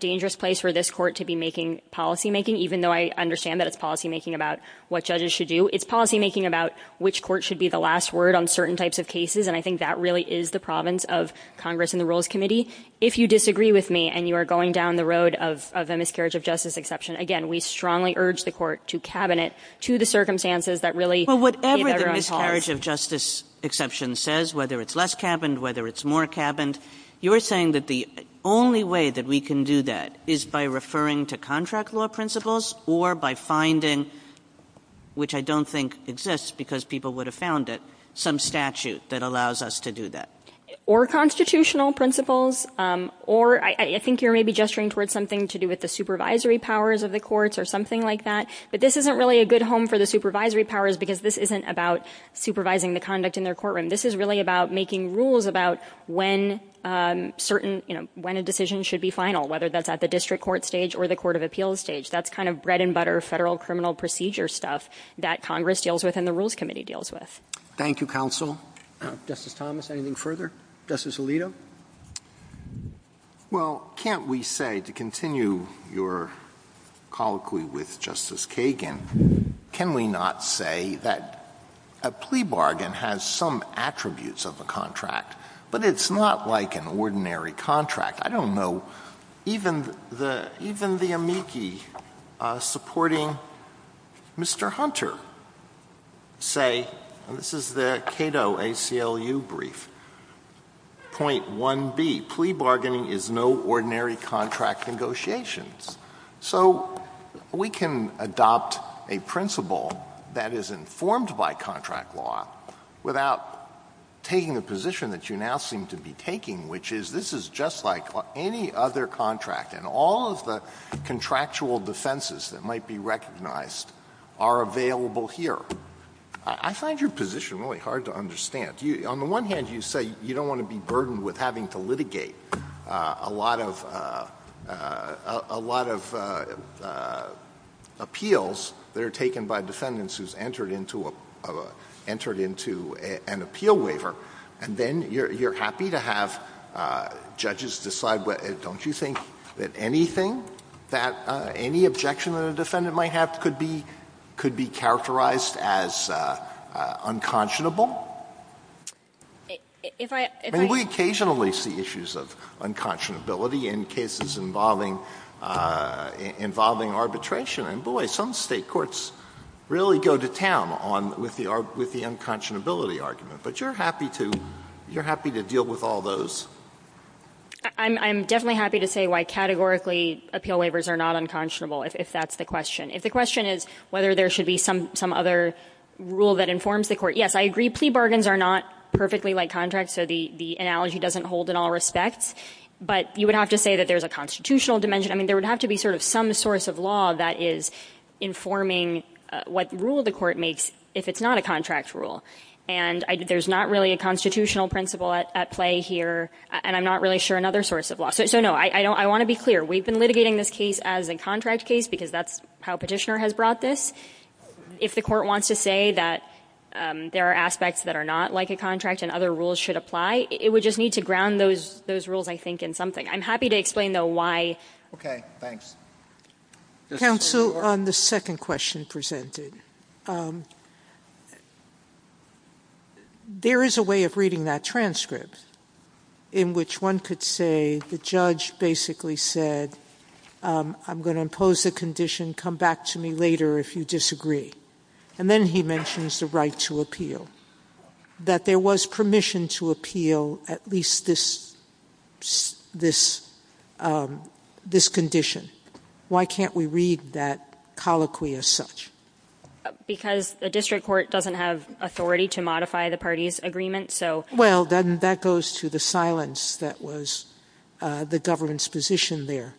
dangerous place for this Court to be making policymaking, even though I understand that it's policymaking about what judges should do. It's policymaking about which court should be the last word on certain types of cases, and I think that really is the province of Congress and the Rules Committee. If you disagree with me and you are going down the road of a miscarriage of justice exception, again, we strongly urge the Court to cabin it to the circumstances that really gave everyone a chance. Whatever the miscarriage of justice exception says, whether it's less cabined, whether it's more cabined, you're saying that the only way that we can do that is by referring to contract law principles or by finding, which I don't think exists because people would have found it, some statute that allows us to do that. Or constitutional principles. Or I think you're maybe gesturing towards something to do with the supervisory powers of the courts or something like that, but this isn't really a good home for the supervisory powers because this isn't about supervising the conduct in their courtroom. This is really about making rules about when a decision should be final, whether that's at the district court stage or the court of appeals stage. That's kind of bread-and-butter federal criminal procedure stuff that Congress deals with and the Rules Committee deals with. Thank you, counsel. Justice Thomas, anything further? Justice Alito? Well, can't we say, to continue your colloquy with Justice Kagan, can we not say that a plea bargain has some attributes of a contract, but it's not like an ordinary contract? I don't know. Even the amici supporting Mr. Hunter say, and this is their Cato ACLU brief, point 1B, plea bargaining is no ordinary contract negotiations. So we can adopt a principle that is informed by contract law without taking the position that you now seem to be taking, which is this is just like any other contract, and all of the contractual defenses that might be recognized are available here. I find your position really hard to understand. On the one hand, you say you don't want to be burdened with having to litigate a lot of appeals that are taken by defendants who have entered into an appeal waiver, and then you're happy to have judges decide, don't you think that anything that any objection that a defendant might have could be characterized as unconscionable? And we occasionally see issues of unconscionability in cases involving arbitration, and boy, some state courts really go to town with the unconscionability argument. But you're happy to deal with all those. I'm definitely happy to say why categorically appeal waivers are not unconscionable, if that's the question. If the question is whether there should be some other rule that informs the court, yes, I agree. Plea bargains are not perfectly like contracts, so the analogy doesn't hold in all respects. But you would have to say that there's a constitutional dimension. I mean, there would have to be sort of some source of law that is informing what rule the court makes if it's not a contract rule. And there's not really a constitutional principle at play here, and I'm not really sure another source of law. So, no, I want to be clear. We've been litigating this case as a contract case because that's how Petitioner has brought this. If the court wants to say that there are aspects that are not like a contract and other rules should apply, it would just need to ground those rules, I think, in something. I'm happy to explain, though, why. Okay, thanks. Counsel, on the second question presented, there is a way of reading that transcript in which one could say the judge basically said, I'm going to impose the condition, come back to me later if you disagree. And then he mentions the right to appeal, that there was permission to appeal at least this condition. Why can't we read that colloquially as such? Because the district court doesn't have authority to modify the party's agreement. Well, then that goes to the silence that was the government's position there.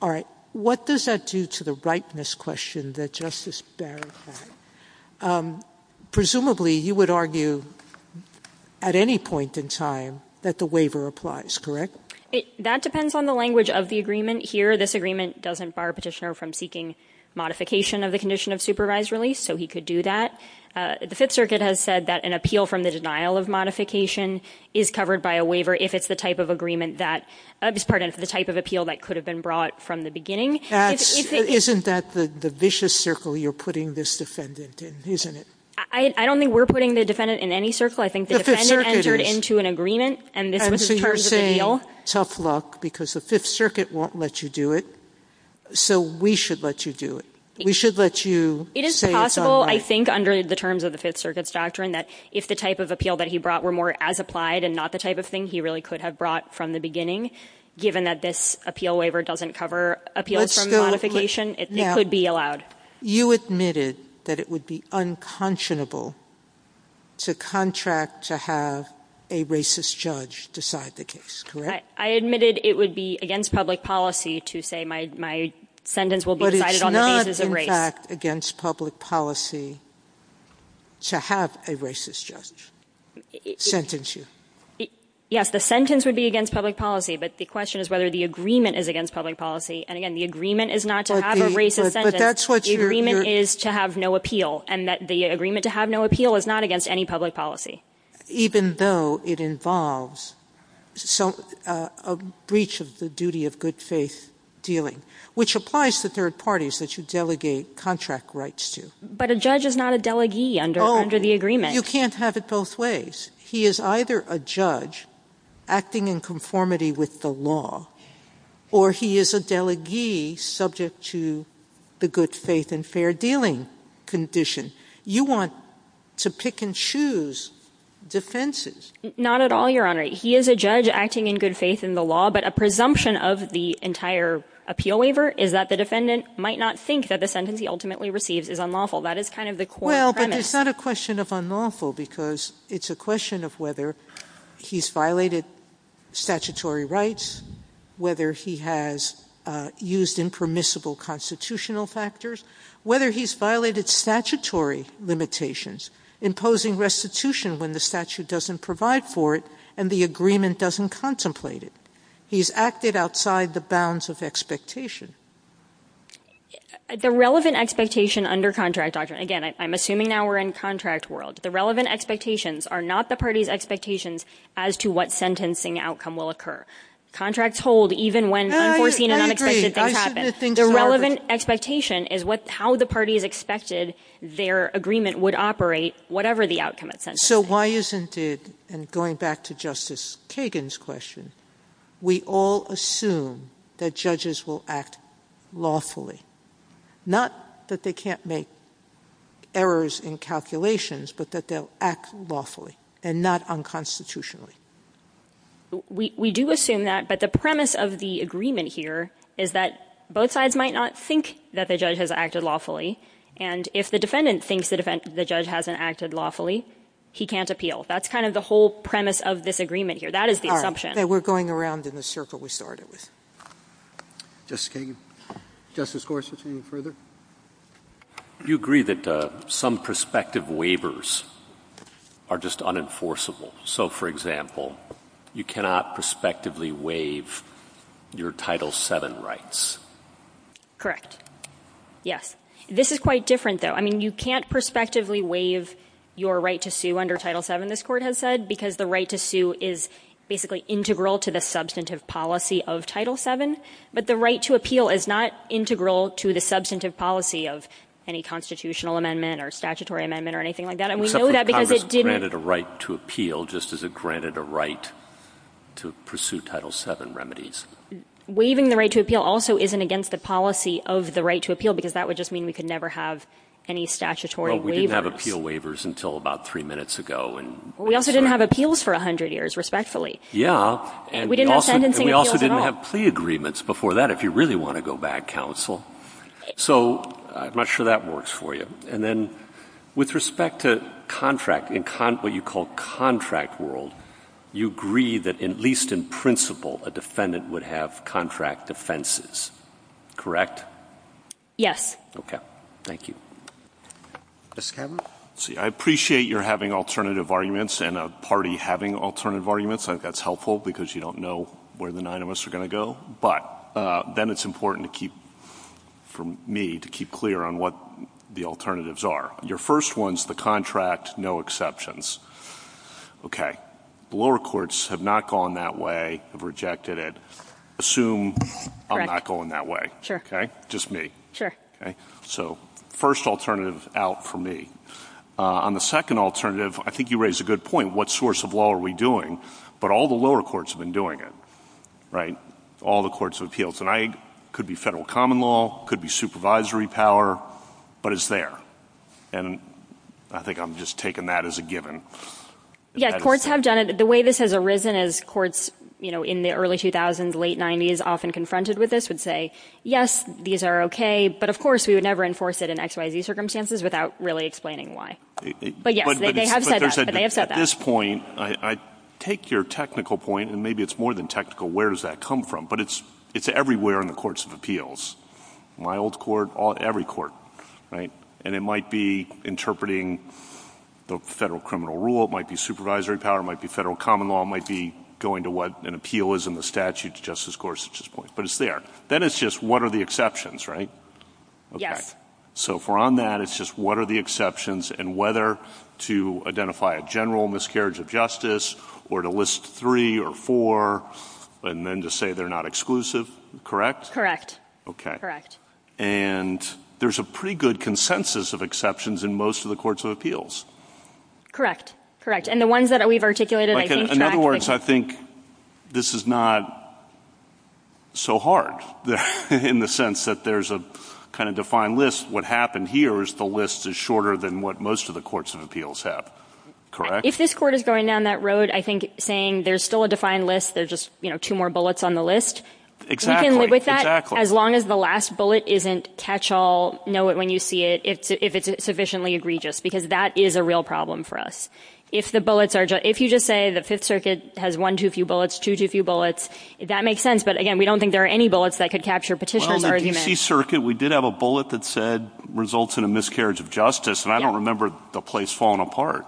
All right, what does that do to the rightness question that Justice Barron had? Presumably, you would argue at any point in time that the waiver applies, correct? That depends on the language of the agreement here. This agreement doesn't bar Petitioner from seeking modification of the condition of supervised release, so he could do that. The Fifth Circuit has said that an appeal from the denial of modification is covered by a waiver if it's the type of appeal that could have been brought from the beginning. Isn't that the vicious circle you're putting this defendant in, isn't it? I don't think we're putting the defendant in any circle. I think the defendant entered into an agreement, and this is part of the deal. So you're saying, tough luck, because the Fifth Circuit won't let you do it, so we should let you do it. We should let you say it's all right. It is possible, I think, under the terms of the Fifth Circuit's doctrine, that if the type of appeal that he brought were more as applied and not the type of thing, he really could have brought from the beginning, given that this appeal waiver doesn't cover appeals from modification, it could be allowed. You admitted that it would be unconscionable to contract to have a racist judge decide the case, correct? I admitted it would be against public policy to say my sentence will be decided on the basis of race. But it's not, in fact, against public policy to have a racist judge sentence you. Yes, the sentence would be against public policy, but the question is whether the agreement is against public policy. And, again, the agreement is not to have a racist sentence. But that's what you're saying. The agreement is to have no appeal, and the agreement to have no appeal is not against any public policy. Even though it involves a breach of the duty of good faith dealing, which applies to third parties that you delegate contract rights to. But a judge is not a delegee under the agreement. Oh, you can't have it both ways. He is either a judge acting in conformity with the law, or he is a delegee subject to the good faith and fair dealing condition. You want to pick and choose defenses. Not at all, Your Honor. He is a judge acting in good faith in the law, but a presumption of the entire appeal waiver is that the defendant might not think that the sentence he ultimately receives is unlawful. That is kind of the core premise. It's not a question of unlawful because it's a question of whether he's violated statutory rights, whether he has used impermissible constitutional factors, whether he's violated statutory limitations, imposing restitution when the statute doesn't provide for it, and the agreement doesn't contemplate it. He's acted outside the bounds of expectation. The relevant expectation under contract doctrine, again, I'm assuming now we're in contract world. The relevant expectations are not the party's expectations as to what sentencing outcome will occur. Contracts hold even when unforeseen and unexpected things happen. The relevant expectation is how the party is expected their agreement would operate, whatever the outcome is. So why isn't it, and going back to Justice Kagan's question, we all assume that judges will act lawfully. Not that they can't make errors in calculations, but that they'll act lawfully and not unconstitutionally. We do assume that, but the premise of the agreement here is that both sides might not think that the judge has acted lawfully, and if the defendant thinks the judge hasn't acted lawfully, he can't appeal. That's kind of the whole premise of this agreement here. That is the assumption. We're going around in the circle we started with. Justice Kagan? Justice Gorsuch, any further? Do you agree that some prospective waivers are just unenforceable? So, for example, you cannot prospectively waive your Title VII rights. Correct. Yes. This is quite different, though. I mean, you can't prospectively waive your right to sue under Title VII, this court has said, because the right to sue is basically integral to the substantive policy of Title VII, but the right to appeal is not integral to the substantive policy of any constitutional amendment or statutory amendment or anything like that. And we know that because it gives— Except that Congress granted a right to appeal just as it granted a right to pursue Title VII remedies. Waiving the right to appeal also isn't against the policy of the right to appeal, because that would just mean we could never have any statutory waiver. Well, we didn't have appeal waivers until about three minutes ago. We also didn't have appeals for 100 years, respectfully. Yeah. We didn't have sentencing appeals at all. And we also didn't have plea agreements before that, if you really want to go back, counsel. So I'm not sure that works for you. And then with respect to contract, in what you call contract world, you agree that at least in principle a defendant would have contract defenses, correct? Yes. Okay. Thank you. Ms. Kavanagh? Let's see. I appreciate you're having alternative arguments and a party having alternative arguments. I think that's helpful because you don't know where the nine of us are going to go. But then it's important for me to keep clear on what the alternatives are. Your first one is the contract, no exceptions. Okay. The lower courts have not gone that way, have rejected it. Assume I'm not going that way. Sure. Okay? Just me. Sure. Okay. So first alternative out for me. On the second alternative, I think you raise a good point. What source of law are we doing? But all the lower courts have been doing it, right, all the courts of appeals. And I could be federal common law, could be supervisory power, but it's there. And I think I'm just taking that as a given. Yeah, courts have done it. The way this has arisen is courts, you know, in the early 2000s, late 90s, often confronted with this would say, yes, these are okay. But, of course, we would never enforce it in XYZ circumstances without really explaining why. But, yeah, they have said that. But they have said that. At this point, I take your technical point, and maybe it's more than technical, where does that come from? But it's everywhere in the courts of appeals. My old court, every court, right? And it might be interpreting the federal criminal rule. It might be supervisory power. It might be federal common law. It might be going to what an appeal is in the statute, justice courts. But it's there. Then it's just what are the exceptions, right? Yes. Okay. So if we're on that, it's just what are the exceptions and whether to identify a general miscarriage of justice or to list three or four and then to say they're not exclusive, correct? Correct. Okay. Correct. And there's a pretty good consensus of exceptions in most of the courts of appeals. Correct. Correct. And the ones that we've articulated, I think that's the case. I think this is not so hard in the sense that there's a kind of defined list. What happened here is the list is shorter than what most of the courts of appeals have. If this court is going down that road, I think saying there's still a defined list, there's just, you know, two more bullets on the list. Exactly. You can live with that as long as the last bullet isn't catch-all, know it when you see it, if it's sufficiently egregious, because that is a real problem for us. If you just say the Fifth Circuit has one too few bullets, two too few bullets, that makes sense. But, again, we don't think there are any bullets that could capture petitioner's argument. Well, in the D.C. Circuit, we did have a bullet that said results in a miscarriage of justice, and I don't remember the place falling apart.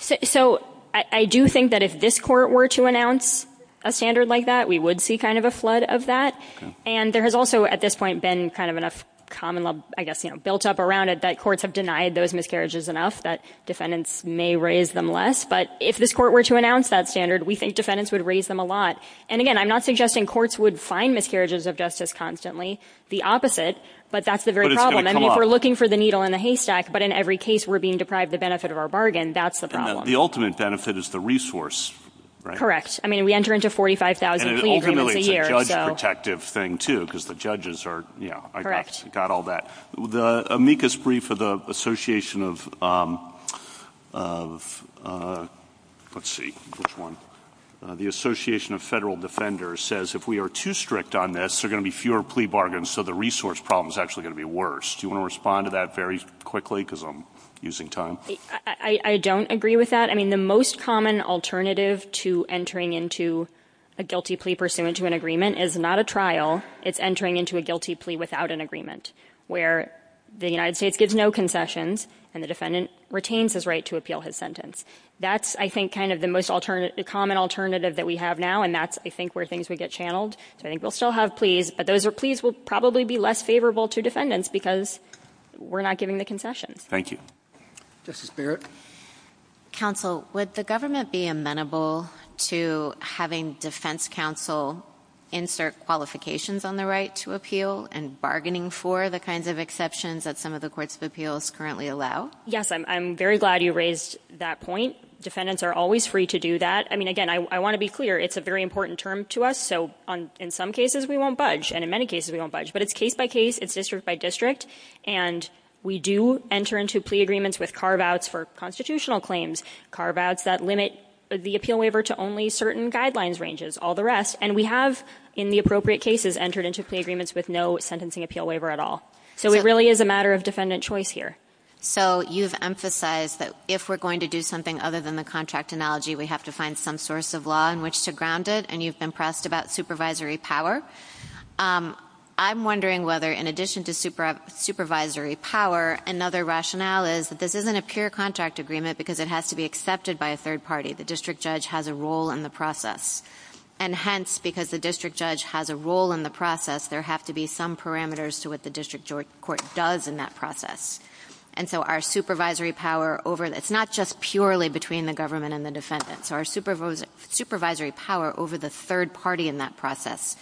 So I do think that if this court were to announce a standard like that, we would see kind of a flood of that. And there has also, at this point, been kind of enough common, I guess, you know, built up around it that courts have denied those miscarriages enough that defendants may raise them less. But if this court were to announce that standard, we think defendants would raise them a lot. And, again, I'm not suggesting courts would find miscarriages of justice constantly. The opposite, but that's the very problem. I mean, if we're looking for the needle in the haystack, but in every case we're being deprived the benefit of our bargain, that's the problem. The ultimate benefit is the resource, right? Correct. I mean, we enter into 45,000 plea agreements a year. And ultimately, it's a judge-protective thing too, because the judges are, you know, got all that. The amicus brief of the Association of Federal Defenders says, if we are too strict on this, there are going to be fewer plea bargains, so the resource problem is actually going to be worse. Do you want to respond to that very quickly, because I'm using time? I don't agree with that. I mean, the most common alternative to entering into a guilty plea pursuant to an agreement is not a trial. It's entering into a guilty plea without an agreement, where the United States gives no concessions and the defendant retains his right to appeal his sentence. That's, I think, kind of the most common alternative that we have now, and that's, I think, where things would get channeled. So I think we'll still have pleas, but those are pleas will probably be less favorable to defendants because we're not giving the concessions. Thank you. Justice Barrett? Counsel, would the government be amenable to having defense counsel insert qualifications on the right to appeal and bargaining for the kinds of exceptions that some of the courts of appeals currently allow? Yes, I'm very glad you raised that point. Defendants are always free to do that. I mean, again, I want to be clear, it's a very important term to us, so in some cases we won't budge, and in many cases we won't budge. But it's case by case, it's district by district, and we do enter into plea agreements with carve-outs for constitutional claims, carve-outs that limit the appeal waiver to only certain guidelines ranges, all the rest, and we have, in the appropriate cases, entered into plea agreements with no sentencing appeal waiver at all. So it really is a matter of defendant choice here. So you've emphasized that if we're going to do something other than the contract analogy, we have to find some source of law in which to ground it, and you've been pressed about supervisory power. I'm wondering whether, in addition to supervisory power, another rationale is that this isn't a pure contract agreement because it has to be accepted by a third party. The district judge has a role in the process. And hence, because the district judge has a role in the process, there have to be some parameters to what the district court does in that process. And so our supervisory power over, it's not just purely between the government and the defendant, so our supervisory power over the third party in that process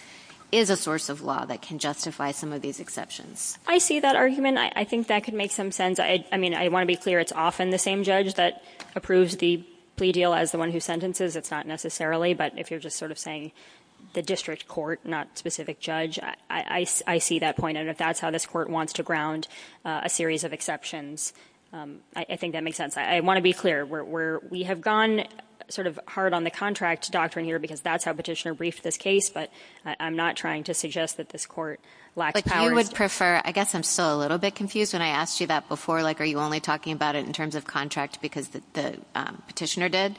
is a source of law that can justify some of these exceptions. I see that argument. I think that could make some sense. I mean, I want to be clear, it's often the same judge that approves the plea deal as the one who sentences. It's not necessarily, but if you're just sort of saying the district court, not specific judge, I see that point, and if that's how this court wants to ground a series of exceptions, I think that makes sense. I want to be clear. We have gone sort of hard on the contract doctrine here because that's how Petitioner briefed this case, but I'm not trying to suggest that this court lacks power. I would prefer, I guess I'm still a little bit confused when I asked you that before, like are you only talking about it in terms of contract because the Petitioner did?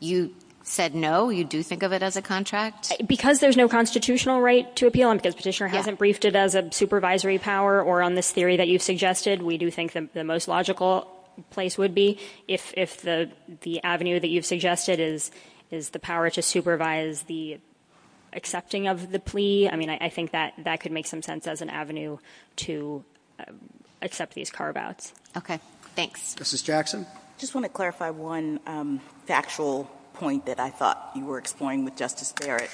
You said no, you do think of it as a contract? Because there's no constitutional right to appeal, and Petitioner hasn't briefed it as a supervisory power or on this theory that you've suggested, we do think the most logical place would be if the avenue that you've suggested is the power to supervise the accepting of the plea. I mean, I think that could make some sense as an avenue to accept these carve-outs. Okay, thanks. Justice Jackson? I just want to clarify one factual point that I thought you were exploring with Justice Barrett.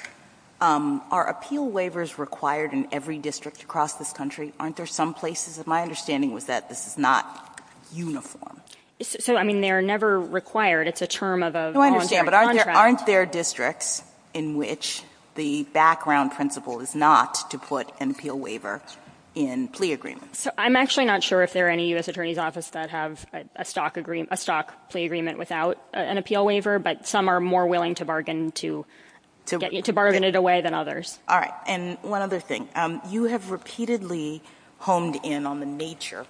Are appeal waivers required in every district across this country? My understanding was that this is not uniform. So, I mean, they are never required. It's a term of a voluntary contract. I understand, but aren't there districts in which the background principle is not to put an appeal waiver in plea agreements? I'm actually not sure if there are any U.S. Attorney's Offices that have a stock plea agreement without an appeal waiver, but some are more willing to bargain it away than others. All right, and one other thing. You have repeatedly honed in on the nature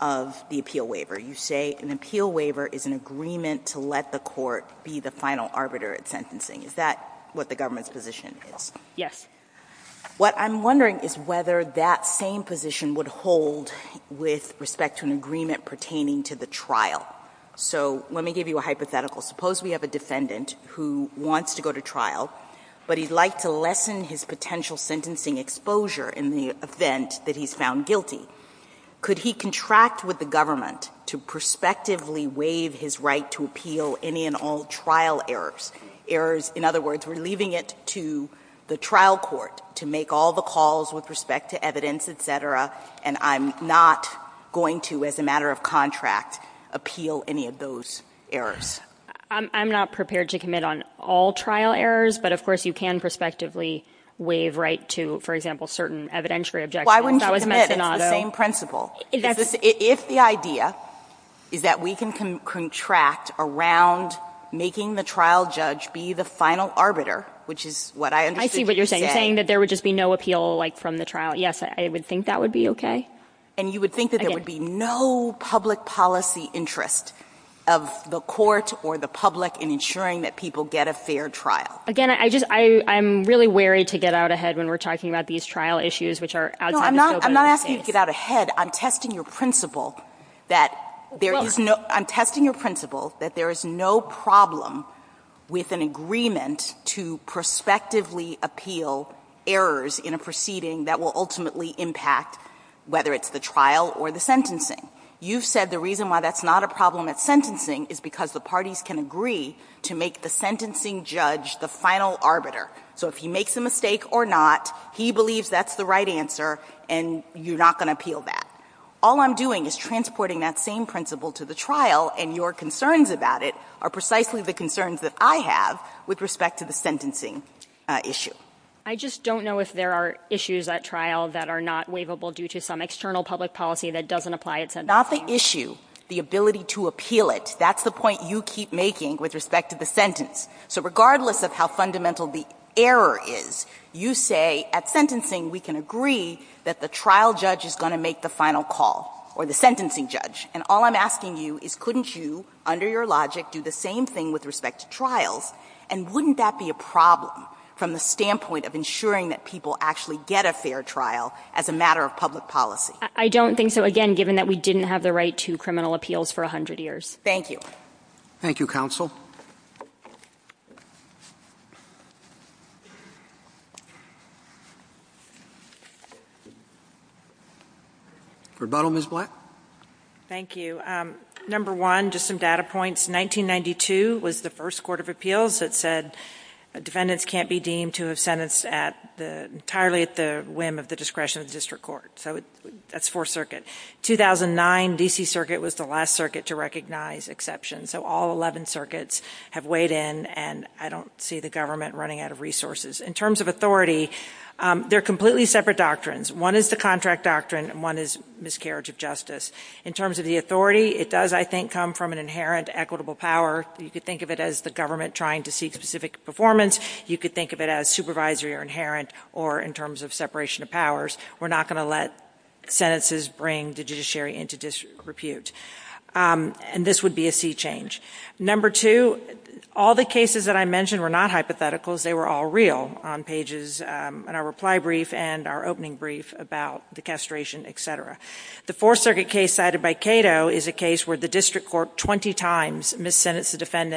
of the appeal waiver. You say an appeal waiver is an agreement to let the court be the final arbiter at sentencing. Is that what the government's position is? Yes. What I'm wondering is whether that same position would hold with respect to an agreement pertaining to the trial. So, let me give you a hypothetical. Suppose we have a defendant who wants to go to trial, but he'd like to lessen his potential sentencing exposure in the event that he's found guilty. Could he contract with the government to prospectively waive his right to appeal any and all trial errors? Errors, in other words, we're leaving it to the trial court to make all the calls with respect to evidence, et cetera, and I'm not going to, as a matter of contract, appeal any of those errors. I'm not prepared to commit on all trial errors, but, of course, you can prospectively waive right to, for example, certain evidentiary objectives. Why wouldn't you commit on the same principle? If the idea is that we can contract around making the trial judge be the final arbiter, which is what I understood you saying. I see what you're saying, saying that there would just be no appeal from the trial. Yes, I would think that would be okay. And you would think that there would be no public policy interest of the court or the public in ensuring that people get a fair trial. Again, I'm really wary to get out ahead when we're talking about these trial issues, which are out there. No, I'm not asking you to get out ahead. I'm testing your principle that there is no problem with an agreement to prospectively appeal errors in a proceeding that will ultimately impact, whether it's the trial or the sentencing. You said the reason why that's not a problem at sentencing is because the parties can agree to make the sentencing judge the final arbiter. So if he makes a mistake or not, he believes that's the right answer, and you're not going to appeal that. All I'm doing is transporting that same principle to the trial, and your concerns about it are precisely the concerns that I have with respect to the sentencing issue. I just don't know if there are issues at trial that are not waivable due to some external public policy that doesn't apply at sentencing. Not the issue, the ability to appeal it. That's the point you keep making with respect to the sentence. So regardless of how fundamental the error is, you say at sentencing we can agree that the trial judge is going to make the final call or the sentencing judge, and all I'm asking you is couldn't you, under your logic, do the same thing with respect to trials, and wouldn't that be a problem from the standpoint of ensuring that people actually get a fair trial as a matter of public policy? I don't think so, again, given that we didn't have the right to criminal appeals for 100 years. Thank you. Thank you, counsel. Rebuttal, Ms. Black? Thank you. Number one, just some data points. 1992 was the first court of appeals that said defendants can't be deemed to have defendants entirely at the whim of the discretion of the district court. So that's Fourth Circuit. 2009, D.C. Circuit was the last circuit to recognize exception. So all 11 circuits have weighed in, and I don't see the government running out of resources. In terms of authority, they're completely separate doctrines. One is the contract doctrine, and one is miscarriage of justice. In terms of the authority, it does, I think, come from an inherent equitable power. You could think of it as the government trying to see specific performance. You could think of it as supervisory or inherent, or in terms of separation of powers, we're not going to let sentences bring the judiciary into disrepute. And this would be a sea change. Number two, all the cases that I mentioned were not hypotheticals. They were all real on pages in our reply brief and our opening brief about the castration, et cetera. The Fourth Circuit case cited by Cato is a case where the district court 20 times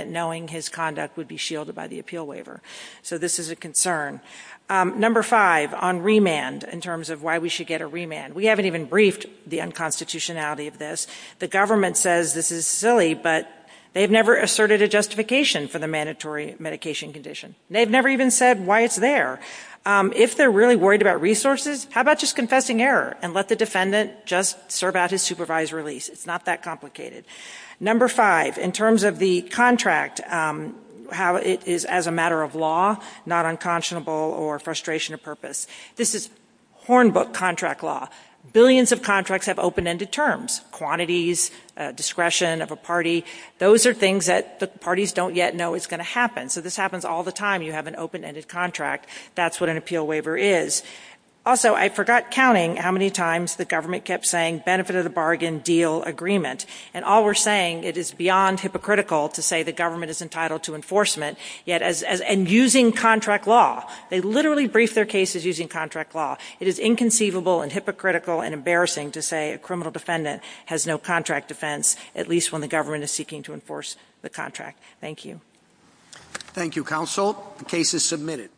knowing his conduct would be shielded by the appeal waiver. So this is a concern. Number five, on remand, in terms of why we should get a remand. We haven't even briefed the unconstitutionality of this. The government says this is silly, but they've never asserted a justification for the mandatory medication condition. They've never even said why it's there. If they're really worried about resources, how about just confessing error and let the defendant just serve out his supervised release? It's not that complicated. Number five, in terms of the contract, how it is as a matter of law, not unconscionable or frustration of purpose. This is hornbook contract law. Billions of contracts have open-ended terms, quantities, discretion of a party. Those are things that the parties don't yet know is going to happen. So this happens all the time. You have an open-ended contract. That's what an appeal waiver is. Also, I forgot counting how many times the government kept saying benefit of the bargain, deal, agreement. And all we're saying, it is beyond hypocritical to say the government is entitled to enforcement, and using contract law. They literally brief their cases using contract law. It is inconceivable and hypocritical and embarrassing to say a criminal defendant has no contract defense, at least when the government is seeking to enforce the contract. Thank you. Thank you, counsel. The case is submitted.